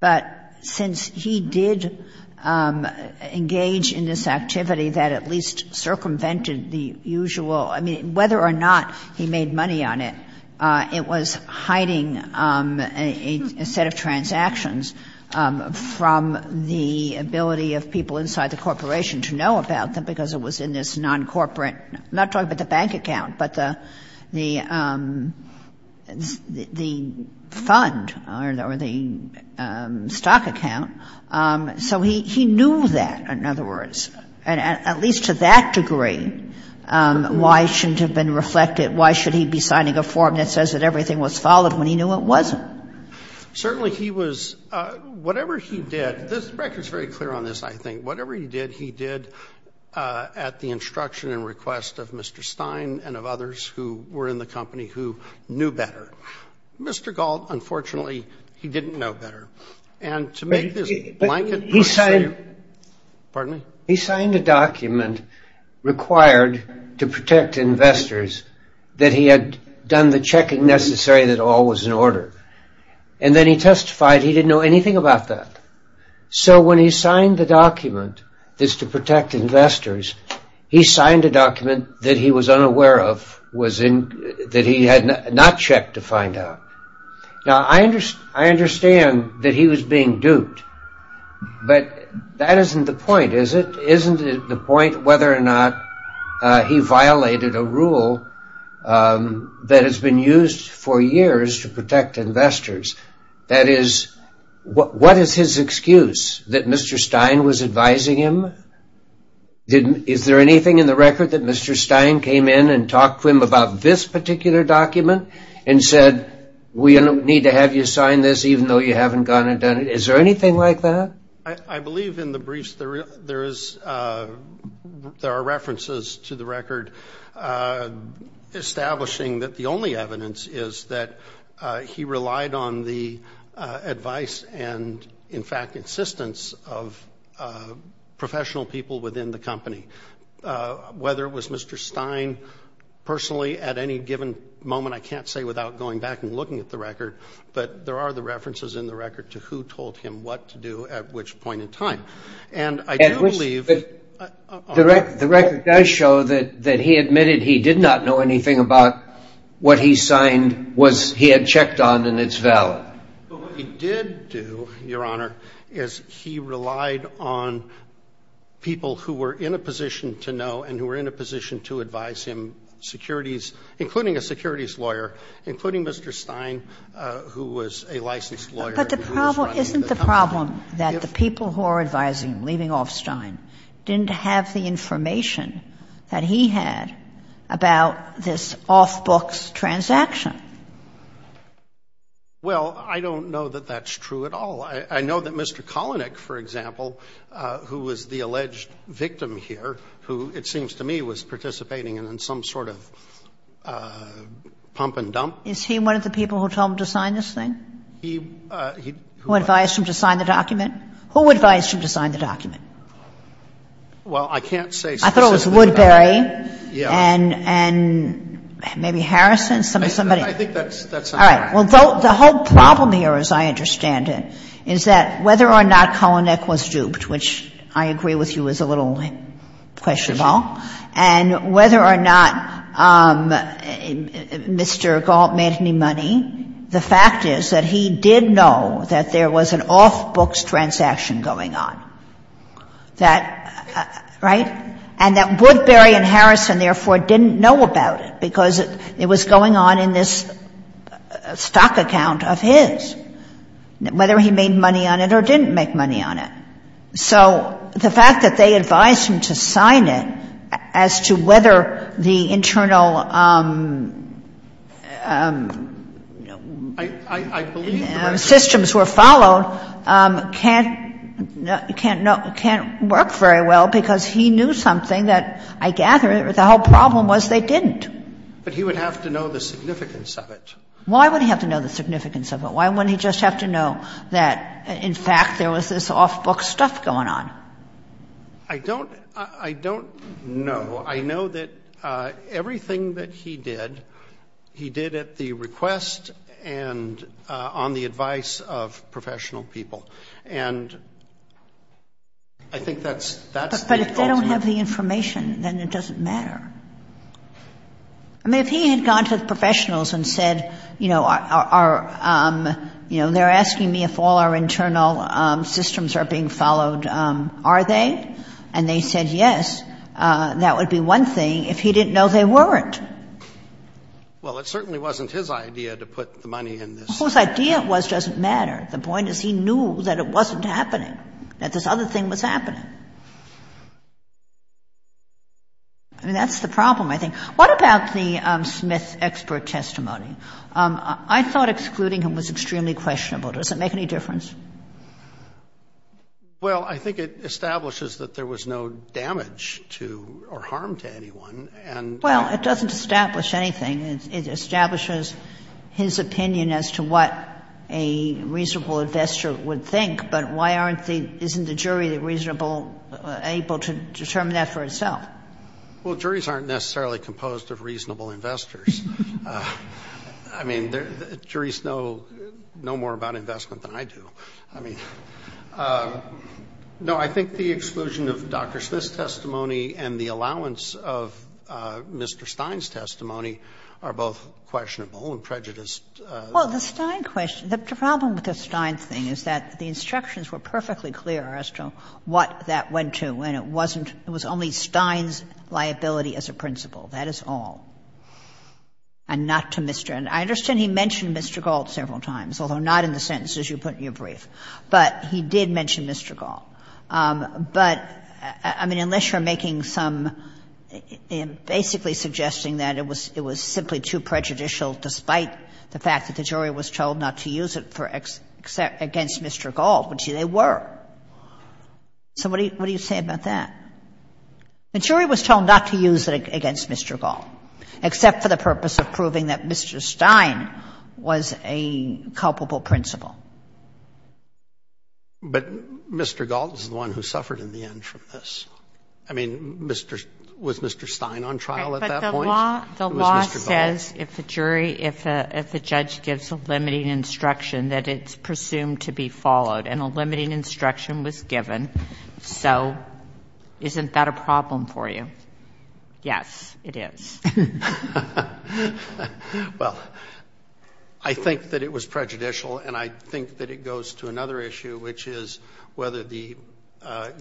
But since he did engage in this activity that at least circumvented the usual, I mean, whether or not he made money on it, it was hiding a set of transactions from the ability of people inside the corporation to know about them because it was in this non-corporate, I'm not talking about the bank account, but the fund or the bank's or the stock account. So he knew that, in other words. And at least to that degree, why shouldn't it have been reflected? Why should he be signing a form that says that everything was followed when he knew it wasn't? Certainly he was, whatever he did, the record is very clear on this, I think. Whatever he did, he did at the instruction and request of Mr. Stein and of others who were in the company who knew better. Mr. Galt, unfortunately, he didn't know better. And to make this blanket, he signed a document required to protect investors that he had done the checking necessary that all was in order. And then he testified he didn't know anything about that. So when he signed the document that's to protect investors, he signed a document that he was unaware of, that he had not checked to find out. Now I understand that he was being duped. But that isn't the point, is it? Isn't it the point whether or not he violated a rule that has been used for years to protect investors? That is, what is his excuse? That Mr. Stein was advising him? Is there anything in the record that Mr. Stein came in and talked to him about this particular document and said, we need to have you sign this even though you haven't gone and done it? Is there anything like that? I believe in the briefs there are references to the record establishing that the only evidence is that he relied on the advice and, in fact, insistence of professional people within the company. Whether it was Mr. Stein personally at any given moment, I can't say without going back and looking at the record, but there are the references in the record to who told him what to do at which point in time. And I do believe... The record does show that he admitted he did not know anything about what he signed he had checked on and it's valid. But what he did do, Your Honor, is he relied on people who were in a position to know and who were in a position to advise him, securities, including a securities lawyer, including Mr. Stein, who was a licensed lawyer. But the problem, isn't the problem that the people who are advising him, leaving off Stein, didn't have the information that he had about this off-books transaction? Well, I don't know that that's true at all. I know that Mr. Kalanick, for example, who was the alleged victim here, who, it seems to me, was participating in some sort of pump and dump. Is he one of the people who told him to sign this thing? He... Who advised him to sign the document? Who advised him to sign the document? Well, I can't say specifically. I thought it was Woodbury and maybe Harrison, somebody. I think that's... All right. Well, the whole problem here, as I understand it, is that whether or not Kalanick was duped, which I agree with you is a little questionable, and whether or not Mr. Galt made any money, the fact is that he did know that there was an off-books transaction going on. That... Right? And that Woodbury and Harrison, therefore, didn't know about it because it was going on in this stock account of his, whether he made money on it or didn't make money on it. So the fact that they advised him to sign it as to whether the internal systems were followed can't work very well because he knew something that, I gather, the whole problem was they didn't. But he would have to know the significance of it. Why would he have to know the significance of it? Why wouldn't he just have to know that, in fact, there was this off-books stuff going on? I don't know. I know that everything that he did, he did at the request and on the advice of professional people. And I think that's... But if they don't have the information, then it doesn't matter. I mean, if he had gone to the professionals and said, you know, they're asking me if all our internal systems are being followed, are they? And they said, yes. That would be one thing if he didn't know they weren't. Well, it certainly wasn't his idea to put the money in this. Whose idea it was doesn't matter. The point is he knew that it wasn't happening, that this other thing was happening. I mean, that's the problem, I think. What about the Smith's expert testimony? I thought excluding him was extremely questionable. Does it make any difference? Well, I think it establishes that there was no damage to or harm to anyone. And... Well, it doesn't establish anything. It establishes his opinion as to what a reasonable investor would think. But why aren't the... Isn't the jury reasonable, able to determine that for itself? Well, juries aren't necessarily composed of reasonable investors. I mean, juries know more about investment than I do. I mean... No, I think the exclusion of Dr. Smith's testimony and the allowance of Mr. Stein's testimony are both questionable and prejudiced. Well, the Stein question... The problem with the Stein thing is that the instructions were perfectly clear as to what that went to, and it wasn't... It was only Stein's liability as a principal. That is all. And not to Mr. And I understand he mentioned Mr. Gault several times, although not in the sentences you put in your brief. But he did mention Mr. Gault. But, I mean, unless you're making some... Basically suggesting that it was simply too prejudicial, despite the fact that the jury was told not to use it against Mr. Gault, which they were. So what do you say about that? The jury was told not to use it against Mr. Gault, except for the purpose of proving that Mr. Stein was a culpable principal. But Mr. Gault is the one who suffered in the end from this. I mean, was Mr. Stein on trial at that point? The law says if the jury... If the judge gives a limiting instruction, that it's presumed to be followed. And a limiting instruction was given. So isn't that a problem for you? Yes, it is. Well, I think that it was prejudicial. And I think that it goes to another issue, which is whether the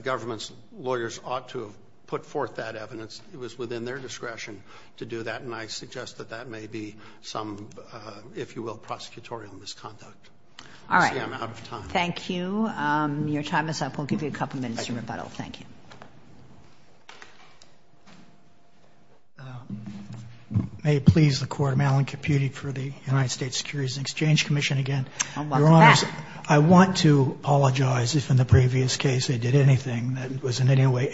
government's lawyers ought to have put forth that evidence. It was within their discretion to do that. And I suggest that that may be some, if you will, prosecutorial misconduct. All right. I see I'm out of time. Thank you. Your time is up. We'll give you a couple minutes to rebuttal. Thank you. May it please the Court, I'm Alan Caputti for the United States Securities and Exchange Commission again. Your Honor, I want to apologize if in the previous case I did anything that was in any way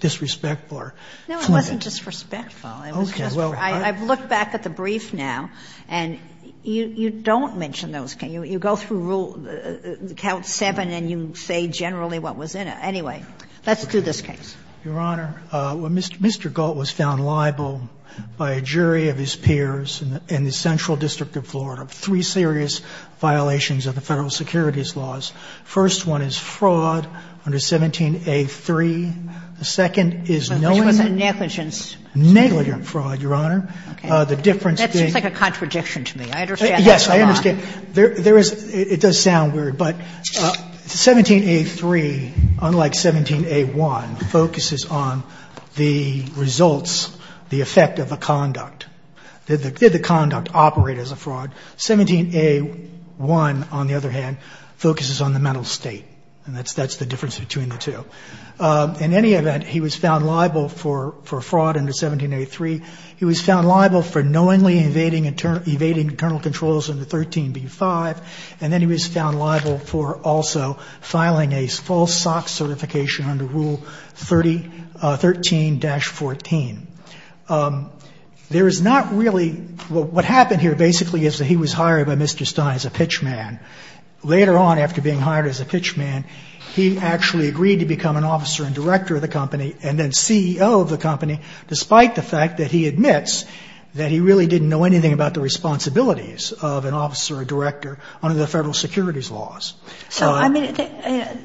disrespectful or... No, it wasn't disrespectful. Okay. I've looked back at the brief now. And you don't mention those things. You go through count seven and you say generally what was in it. Anyway, let's do this case. Your Honor, Mr. Gault was found liable by a jury of his peers in the Central District of Florida for three serious violations of the federal securities laws. First one is fraud under 17A3. The second is knowing... So this was a negligence? Negligent fraud, Your Honor. That seems like a contradiction to me. I understand that. Yes, I understand. It does sound weird, but 17A3, unlike 17A1, focuses on the results, the effect of a conduct. Did the conduct operate as a fraud? 17A1, on the other hand, focuses on the mental state. And that's the difference between the two. In any event, he was found liable for fraud under 17A3. He was found liable for knowingly evading internal controls under 13B5. And then he was found liable for also filing a false SOX certification under Rule 13-14. There is not really... What happened here basically is that he was hired by Mr. Stein as a pitchman. Later on, after being hired as a pitchman, he actually agreed to become an officer and director of the company and then CEO of the company, despite the fact that he admits that he really didn't know anything about the responsibilities of an officer or director under the federal securities laws. So, I mean,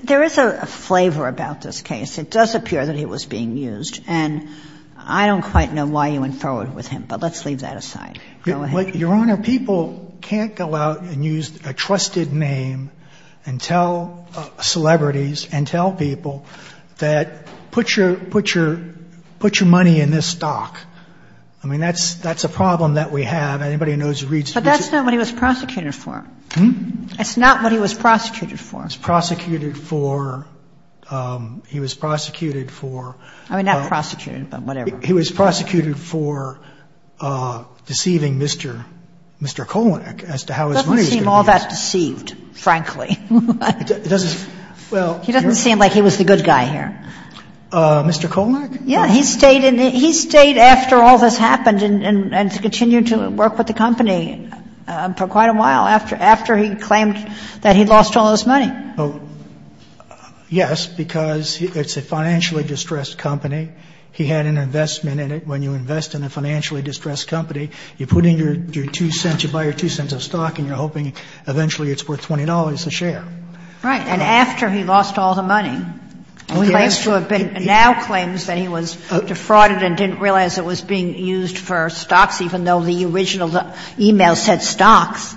there is a flavor about this case. It does appear that he was being used. And I don't quite know why you went forward with him, but let's leave that aside. Go ahead. Your Honor, people can't go out and use a trusted name and tell celebrities and tell people that, put your money in this stock. I mean, that's a problem that we have. Anybody who knows who reads... But that's not what he was prosecuted for. Hmm? That's not what he was prosecuted for. He was prosecuted for... He was prosecuted for... I mean, not prosecuted, but whatever. He was prosecuted for deceiving Mr. Kolnick as to how his money... He doesn't seem all that deceived, frankly. It doesn't... Well... He doesn't seem like he was the good guy here. Mr. Kolnick? Yeah. He stayed after all this happened and continued to work with the company for quite a while after he claimed that he lost all his money. Yes, because it's a financially distressed company. He had an investment in it. When you invest in a financially distressed company, you put in your two cents, you buy your two cents of stock, and you're hoping eventually it's worth $20 a share. Right. And after he lost all the money, he claims to have been... Now claims that he was defrauded and didn't realize it was being used for stocks, even though the original e-mail said stocks.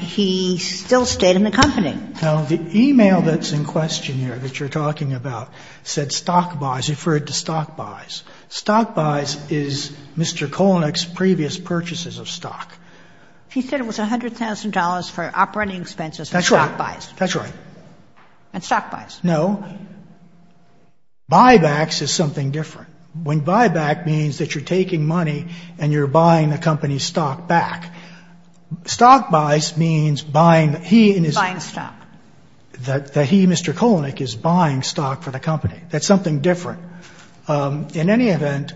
He still stayed in the company. Now, the e-mail that's in question here that you're talking about said stock buys, referred to stock buys. Stock buys is Mr. Kolnick's previous purchases of stock. He said it was $100,000 for operating expenses. That's right. Stock buys. That's right. And stock buys. No. Buybacks is something different. When buyback means that you're taking money and you're buying the company's stock back. Stock buys means buying... Buying stock. That he, Mr. Kolnick, is buying stock for the company. That's something different. In any event,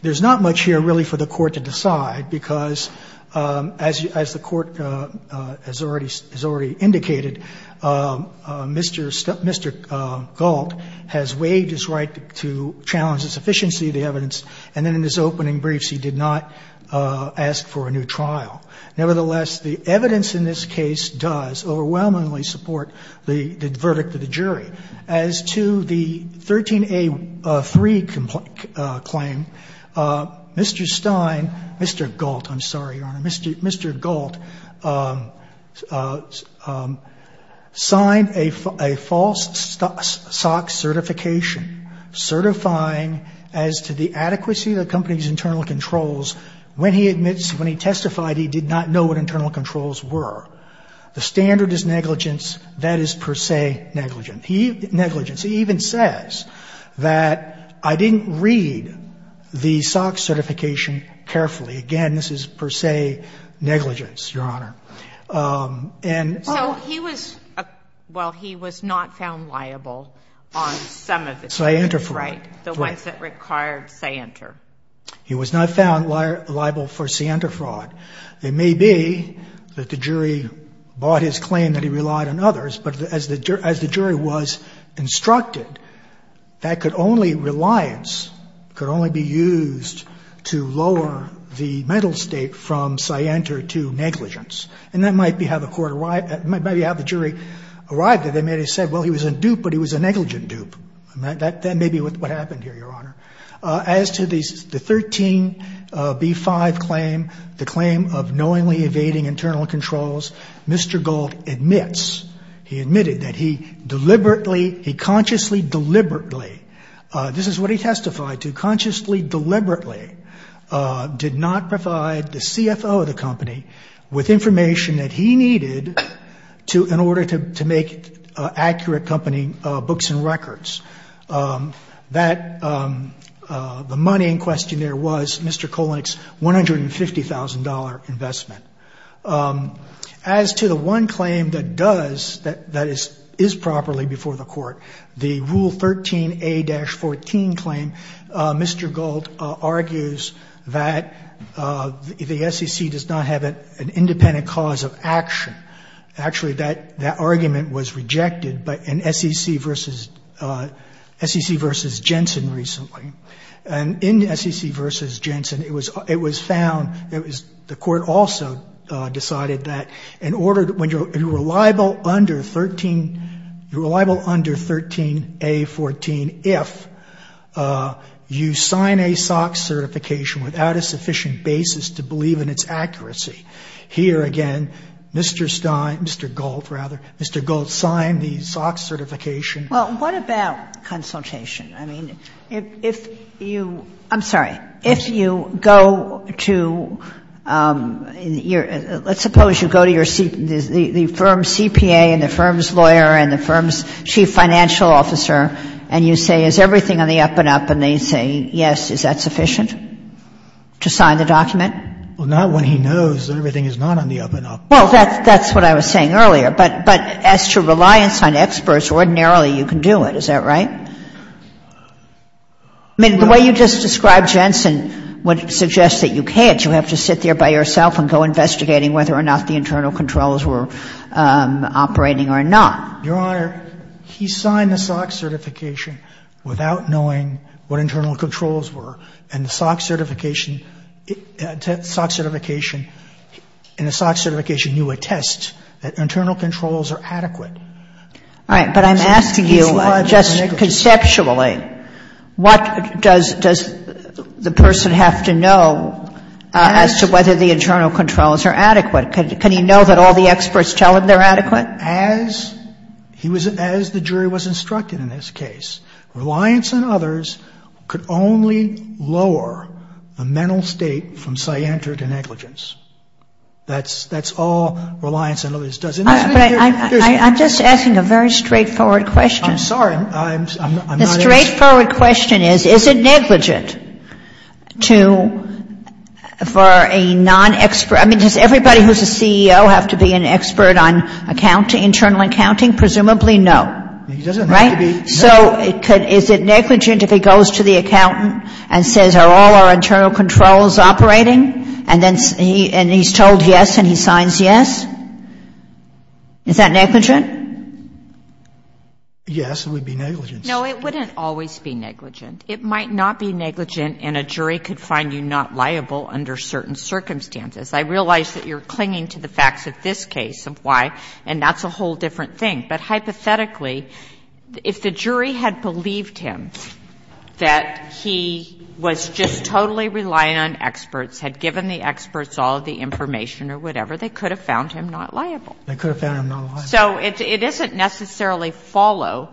there's not much here really for the court to decide, because as the court has already indicated, Mr. Galt has waived his right to challenge the sufficiency of the evidence, and then in his opening briefs he did not ask for a new trial. Nevertheless, the evidence in this case does overwhelmingly support the verdict of the jury. As to the 13A3 claim, Mr. Stein... Mr. Galt, I'm sorry, Your Honor. Mr. Galt signed a false stock certification, certifying as to the adequacy of the company's internal controls. When he admits, when he testified, he did not know what internal controls were. The standard is negligence. That is per se negligent. Negligence. He even says that, I didn't read the stock certification carefully. Again, this is per se negligence, Your Honor. So he was, well, he was not found liable on some of the claims, right? Scientifraud. The ones that required scientifraud. He was not found liable for scientifraud. It may be that the jury bought his claim that he relied on others, but as the jury was instructed, that could only, reliance could only be used to lower the mental state from scientifraud to negligence. And that might be how the jury arrived at it. They may have said, well, he was a dupe, but he was a negligent dupe. That may be what happened here, Your Honor. As to the 13B5 claim, the claim of knowingly evading internal controls, Mr. Galt admits, he admitted that he deliberately, he consciously deliberately, this is what he testified to, consciously deliberately did not provide the CFO of the company with information that he needed in order to make accurate company books and records. That, the money in question there was Mr. Kolenick's $150,000 investment. As to the one claim that does, that is properly before the court, the Rule 13A-14 claim, Mr. Galt argues that the SEC does not have an independent cause of action. Actually, that argument was rejected in SEC versus Jensen recently. And in SEC versus Jensen, it was found, the court also decided that in order, when you're reliable under 13, you're reliable under 13A-14 if you sign a SOX certification without a sufficient basis to believe in its accuracy. Here again, Mr. Stein, Mr. Galt rather, Mr. Galt signed the SOX certification. Well, what about consultation? I mean, if you, I'm sorry, if you go to, let's suppose you go to the firm CPA and the firm's lawyer and the firm's chief financial officer and you say, is everything on the up and up? And they say, yes, is that sufficient to sign the document? Well, not when he knows that everything is not on the up and up. Well, that's what I was saying earlier. But as to reliance on experts, ordinarily you can do it. Is that right? I mean, the way you just described Jensen would suggest that you can't. You have to sit there by yourself and go investigating whether or not the internal controls were operating or not. Your Honor, he signed the SOX certification without knowing what internal controls were. And the SOX certification, and the SOX certification knew a test, that internal controls are adequate. All right, but I'm asking you just conceptually, what does the person have to know as to whether the internal controls are adequate? Can he know that all the experts tell him they're adequate? As the jury was instructed in this case, reliance on others could only lower the mental state from scienter to negligence. That's all reliance on others does. But I'm just asking a very straightforward question. I'm sorry, I'm not interested. The straightforward question is, is it negligent for a non-expert? I mean, does everybody who's a CEO have to be an expert on accounting, internal accounting? Presumably no. He doesn't have to be. Right? So is it negligent if he goes to the accountant and says are all our internal controls operating? And then he's told yes and he signs yes? Is that negligent? Yes, it would be negligent. No, it wouldn't always be negligent. It might not be negligent and a jury could find you not liable under certain circumstances. I realize that you're clinging to the facts of this case of why, and that's a whole different thing. But hypothetically, if the jury had believed him that he was just totally reliant on experts, had given the experts all of the information or whatever, they could have found him not liable. They could have found him not liable. So it isn't necessarily follow,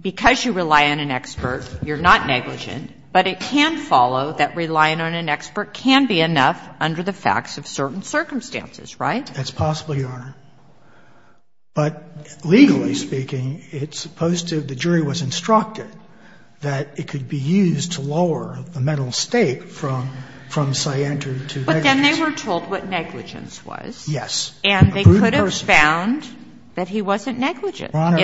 because you rely on an expert, you're not negligent, but it can follow that relying on an expert can be enough under the facts of certain circumstances, right? That's possible, Your Honor. But legally speaking, it's supposed to, the jury was instructed that it could be used to lower the mental state from scientific to negligent. But then they were told what negligence was. Yes. And they could have found that he wasn't negligent. Your Honor,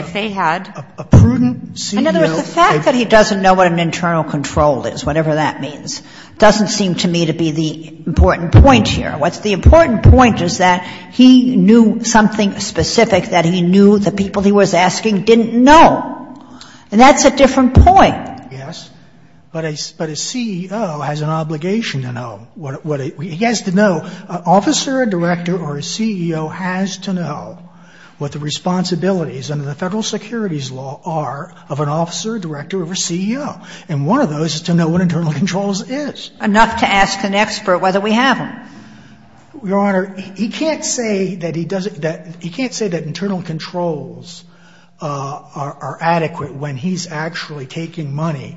a prudent CEO. In other words, the fact that he doesn't know what an internal control is, whatever that means, doesn't seem to me to be the important point here. What's the important point is that he knew something specific that he knew the people he was asking didn't know. And that's a different point. Yes. But a CEO has an obligation to know. He has to know. An officer, a director, or a CEO has to know what the responsibilities under the Federal Securities Law are of an officer, a director, or a CEO. And one of those is to know what internal control is. Enough to ask an expert whether we have them. Your Honor, he can't say that he doesn't, he can't say that internal controls are adequate when he's actually taking money.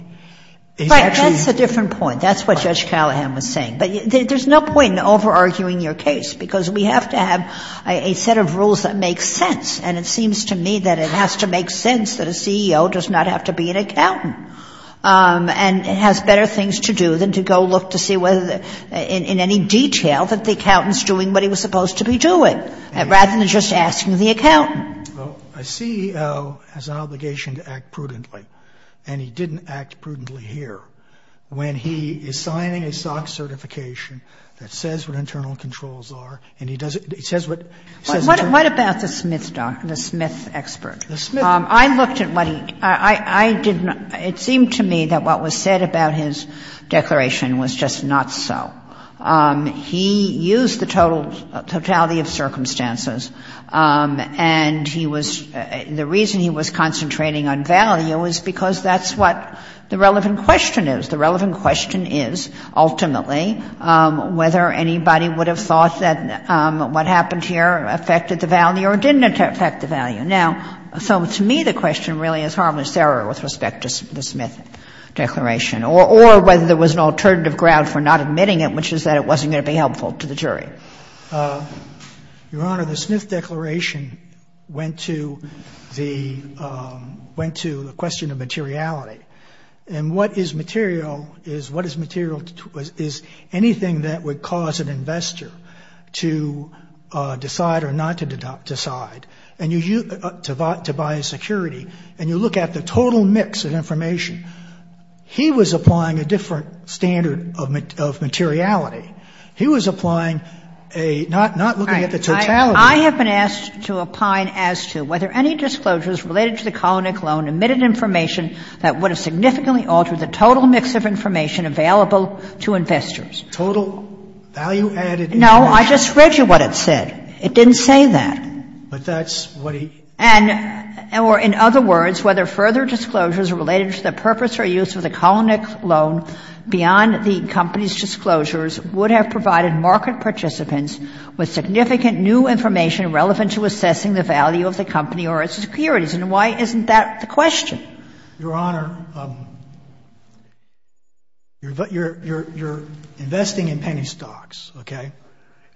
Right. That's a different point. That's what Judge Callahan was saying. But there's no point in over-arguing your case because we have to have a set of rules that make sense. And it seems to me that it has to make sense that a CEO does not have to be an accountant. And it has better things to do than to go look to see whether, in any detail, that the accountant's doing what he was supposed to be doing, rather than just asking the accountant. A CEO has an obligation to act prudently. And he didn't act prudently here. When he is signing a SOC certification that says what internal controls are, and he doesn't, it says what, it says internal. What about the Smith doctor, the Smith expert? The Smith. I looked at what he, I didn't, it seemed to me that what was said about his declaration was just not so. He used the totality of circumstances. And he was, the reason he was concentrating on value is because that's what the relevant question is. The relevant question is, ultimately, whether anybody would have thought that what happened here affected the value or didn't affect the value. Now, so to me, the question really is harmless error with respect to the Smith declaration, or whether there was an alternative ground for not admitting it, which is that it wasn't going to be helpful to the jury. Your Honor, the Smith declaration went to the, went to the question of materiality. And what is material, is what is material, is anything that would cause an investor to decide or not to decide, and you, to buy a security, and you look at the total mix of information, he was applying a different standard of materiality. He was applying a, not looking at the totality. I have been asked to opine as to whether any disclosures related to the Kolnick loan admitted information that would have significantly altered the total mix of information available to investors. Total value-added information. No, I just read you what it said. It didn't say that. But that's what he... And, or in other words, whether further disclosures related to the purpose or use of the Kolnick loan beyond the company's disclosures would have provided market participants with significant new information relevant to assessing the value of the company or its securities. And why isn't that the question? Your Honor, you're investing in penny stocks, okay?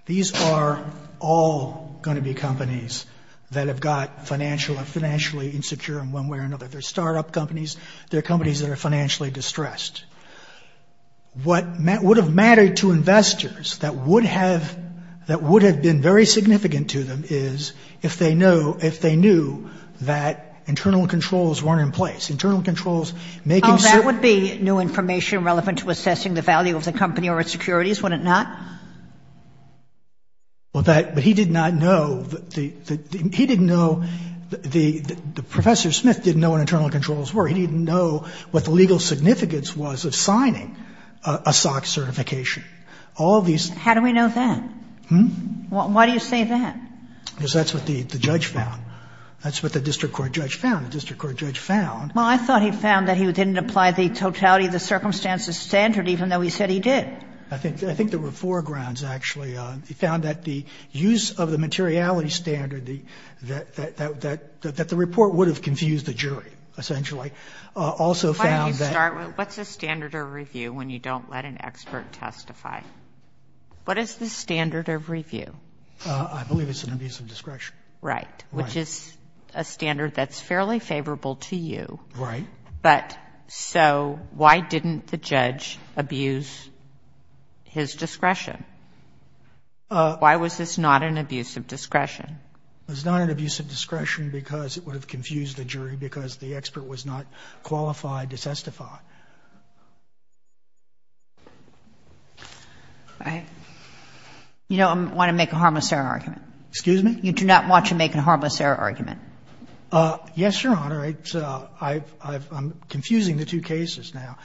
These are all going to be companies that have got financially insecure in one way or another. They're startup companies. They're companies that are financially distressed. What would have mattered to investors that would have been very significant to them is if they knew that internal controls weren't in place. Internal controls making certain... Oh, that would be new information relevant to assessing the value of the company or its securities, would it not? Well, that... But he did not know... He didn't know... Professor Smith didn't know what internal controls were. He didn't know what the legal significance was of signing a stock certification. How do we know that? Hmm? Why do you say that? Because that's what the judge found. That's what the district court judge found. The district court judge found... Well, I thought he found that he didn't apply the totality of the circumstances standard even though he said he did. I think there were four grounds, actually. He found that the use of the materiality standard, that the report would have confused the jury, essentially. Also found that... Why don't you start with what's a standard of review when you don't let an expert testify? What is the standard of review? I believe it's an abuse of discretion. Right. Right. Which is a standard that's fairly favorable to you. Right. But... So why didn't the judge abuse his discretion? Why was this not an abuse of discretion? It was not an abuse of discretion because it would have confused the jury because the expert was not qualified to testify. All right. You don't want to make a harmless error argument. Excuse me? You do not want to make a harmless error argument. Yes, Your Honor. I'm confusing the two cases now.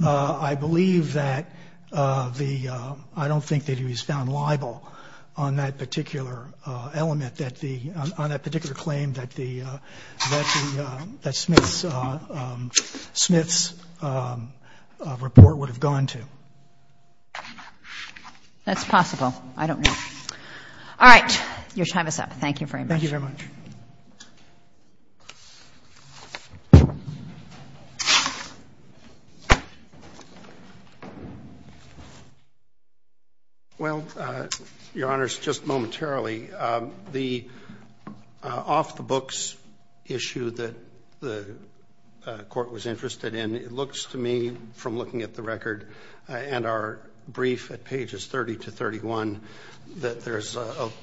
I believe that the... I don't think that he was found liable on that particular element, on that particular claim that Smith's... report would have gone to. That's possible. I don't know. All right. Your time is up. Thank you very much. Thank you very much. Well, Your Honors, just momentarily, the off-the-books issue that the court was interested in, it looks to me, from looking at the record and our brief at pages 30 to 31, that there's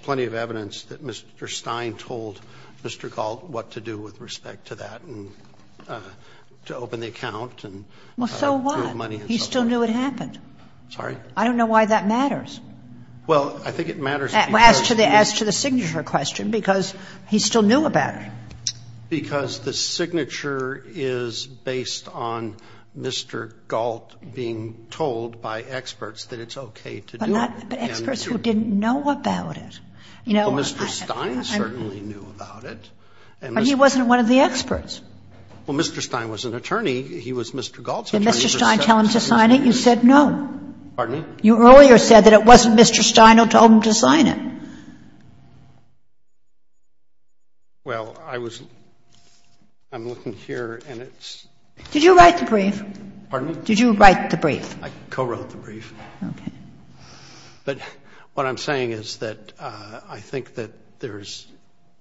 plenty of evidence that Mr. Stein told Mr. Galt what to do with respect to that and to open the account. Well, so what? He still knew it happened. Sorry? I don't know why that matters. Well, I think it matters because... As to the signature question, because he still knew about it. Because the signature is based on Mr. Galt being told by experts that it's okay to do it. But experts who didn't know about it. Well, Mr. Stein certainly knew about it. But he wasn't one of the experts. Well, Mr. Stein was an attorney. He was Mr. Galt's attorney. Did Mr. Stein tell him to sign it? You said no. Pardon me? You earlier said that it wasn't Mr. Stein who told him to sign it. Well, I was... I'm looking here, and it's... Did you write the brief? Pardon me? Did you write the brief? I co-wrote the brief. Okay. But what I'm saying is that I think that there's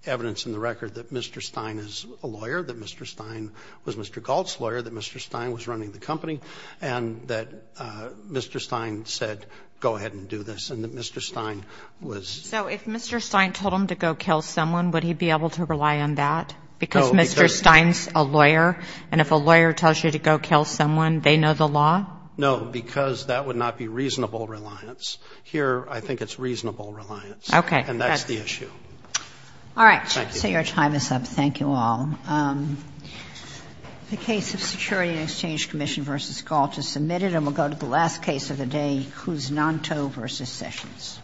evidence in the record that Mr. Stein is a lawyer, that Mr. Stein was Mr. Galt's lawyer, that Mr. Stein was running the company, and that Mr. Stein said, go ahead and do this, and that Mr. Stein was... So if Mr. Stein told him to go kill someone, would he be able to rely on that? No, because... Because Mr. Stein's a lawyer, and if a lawyer tells you to go kill someone, they know the law? No, because that would not be reasonable reliance. Here, I think it's reasonable reliance. Okay. And that's the issue. All right. Thank you. So your time is up. Thank you all. The case of Security and Exchange Commission v. Galt is submitted, and we'll go to the last case of the day, Cusnanto v. Sessions.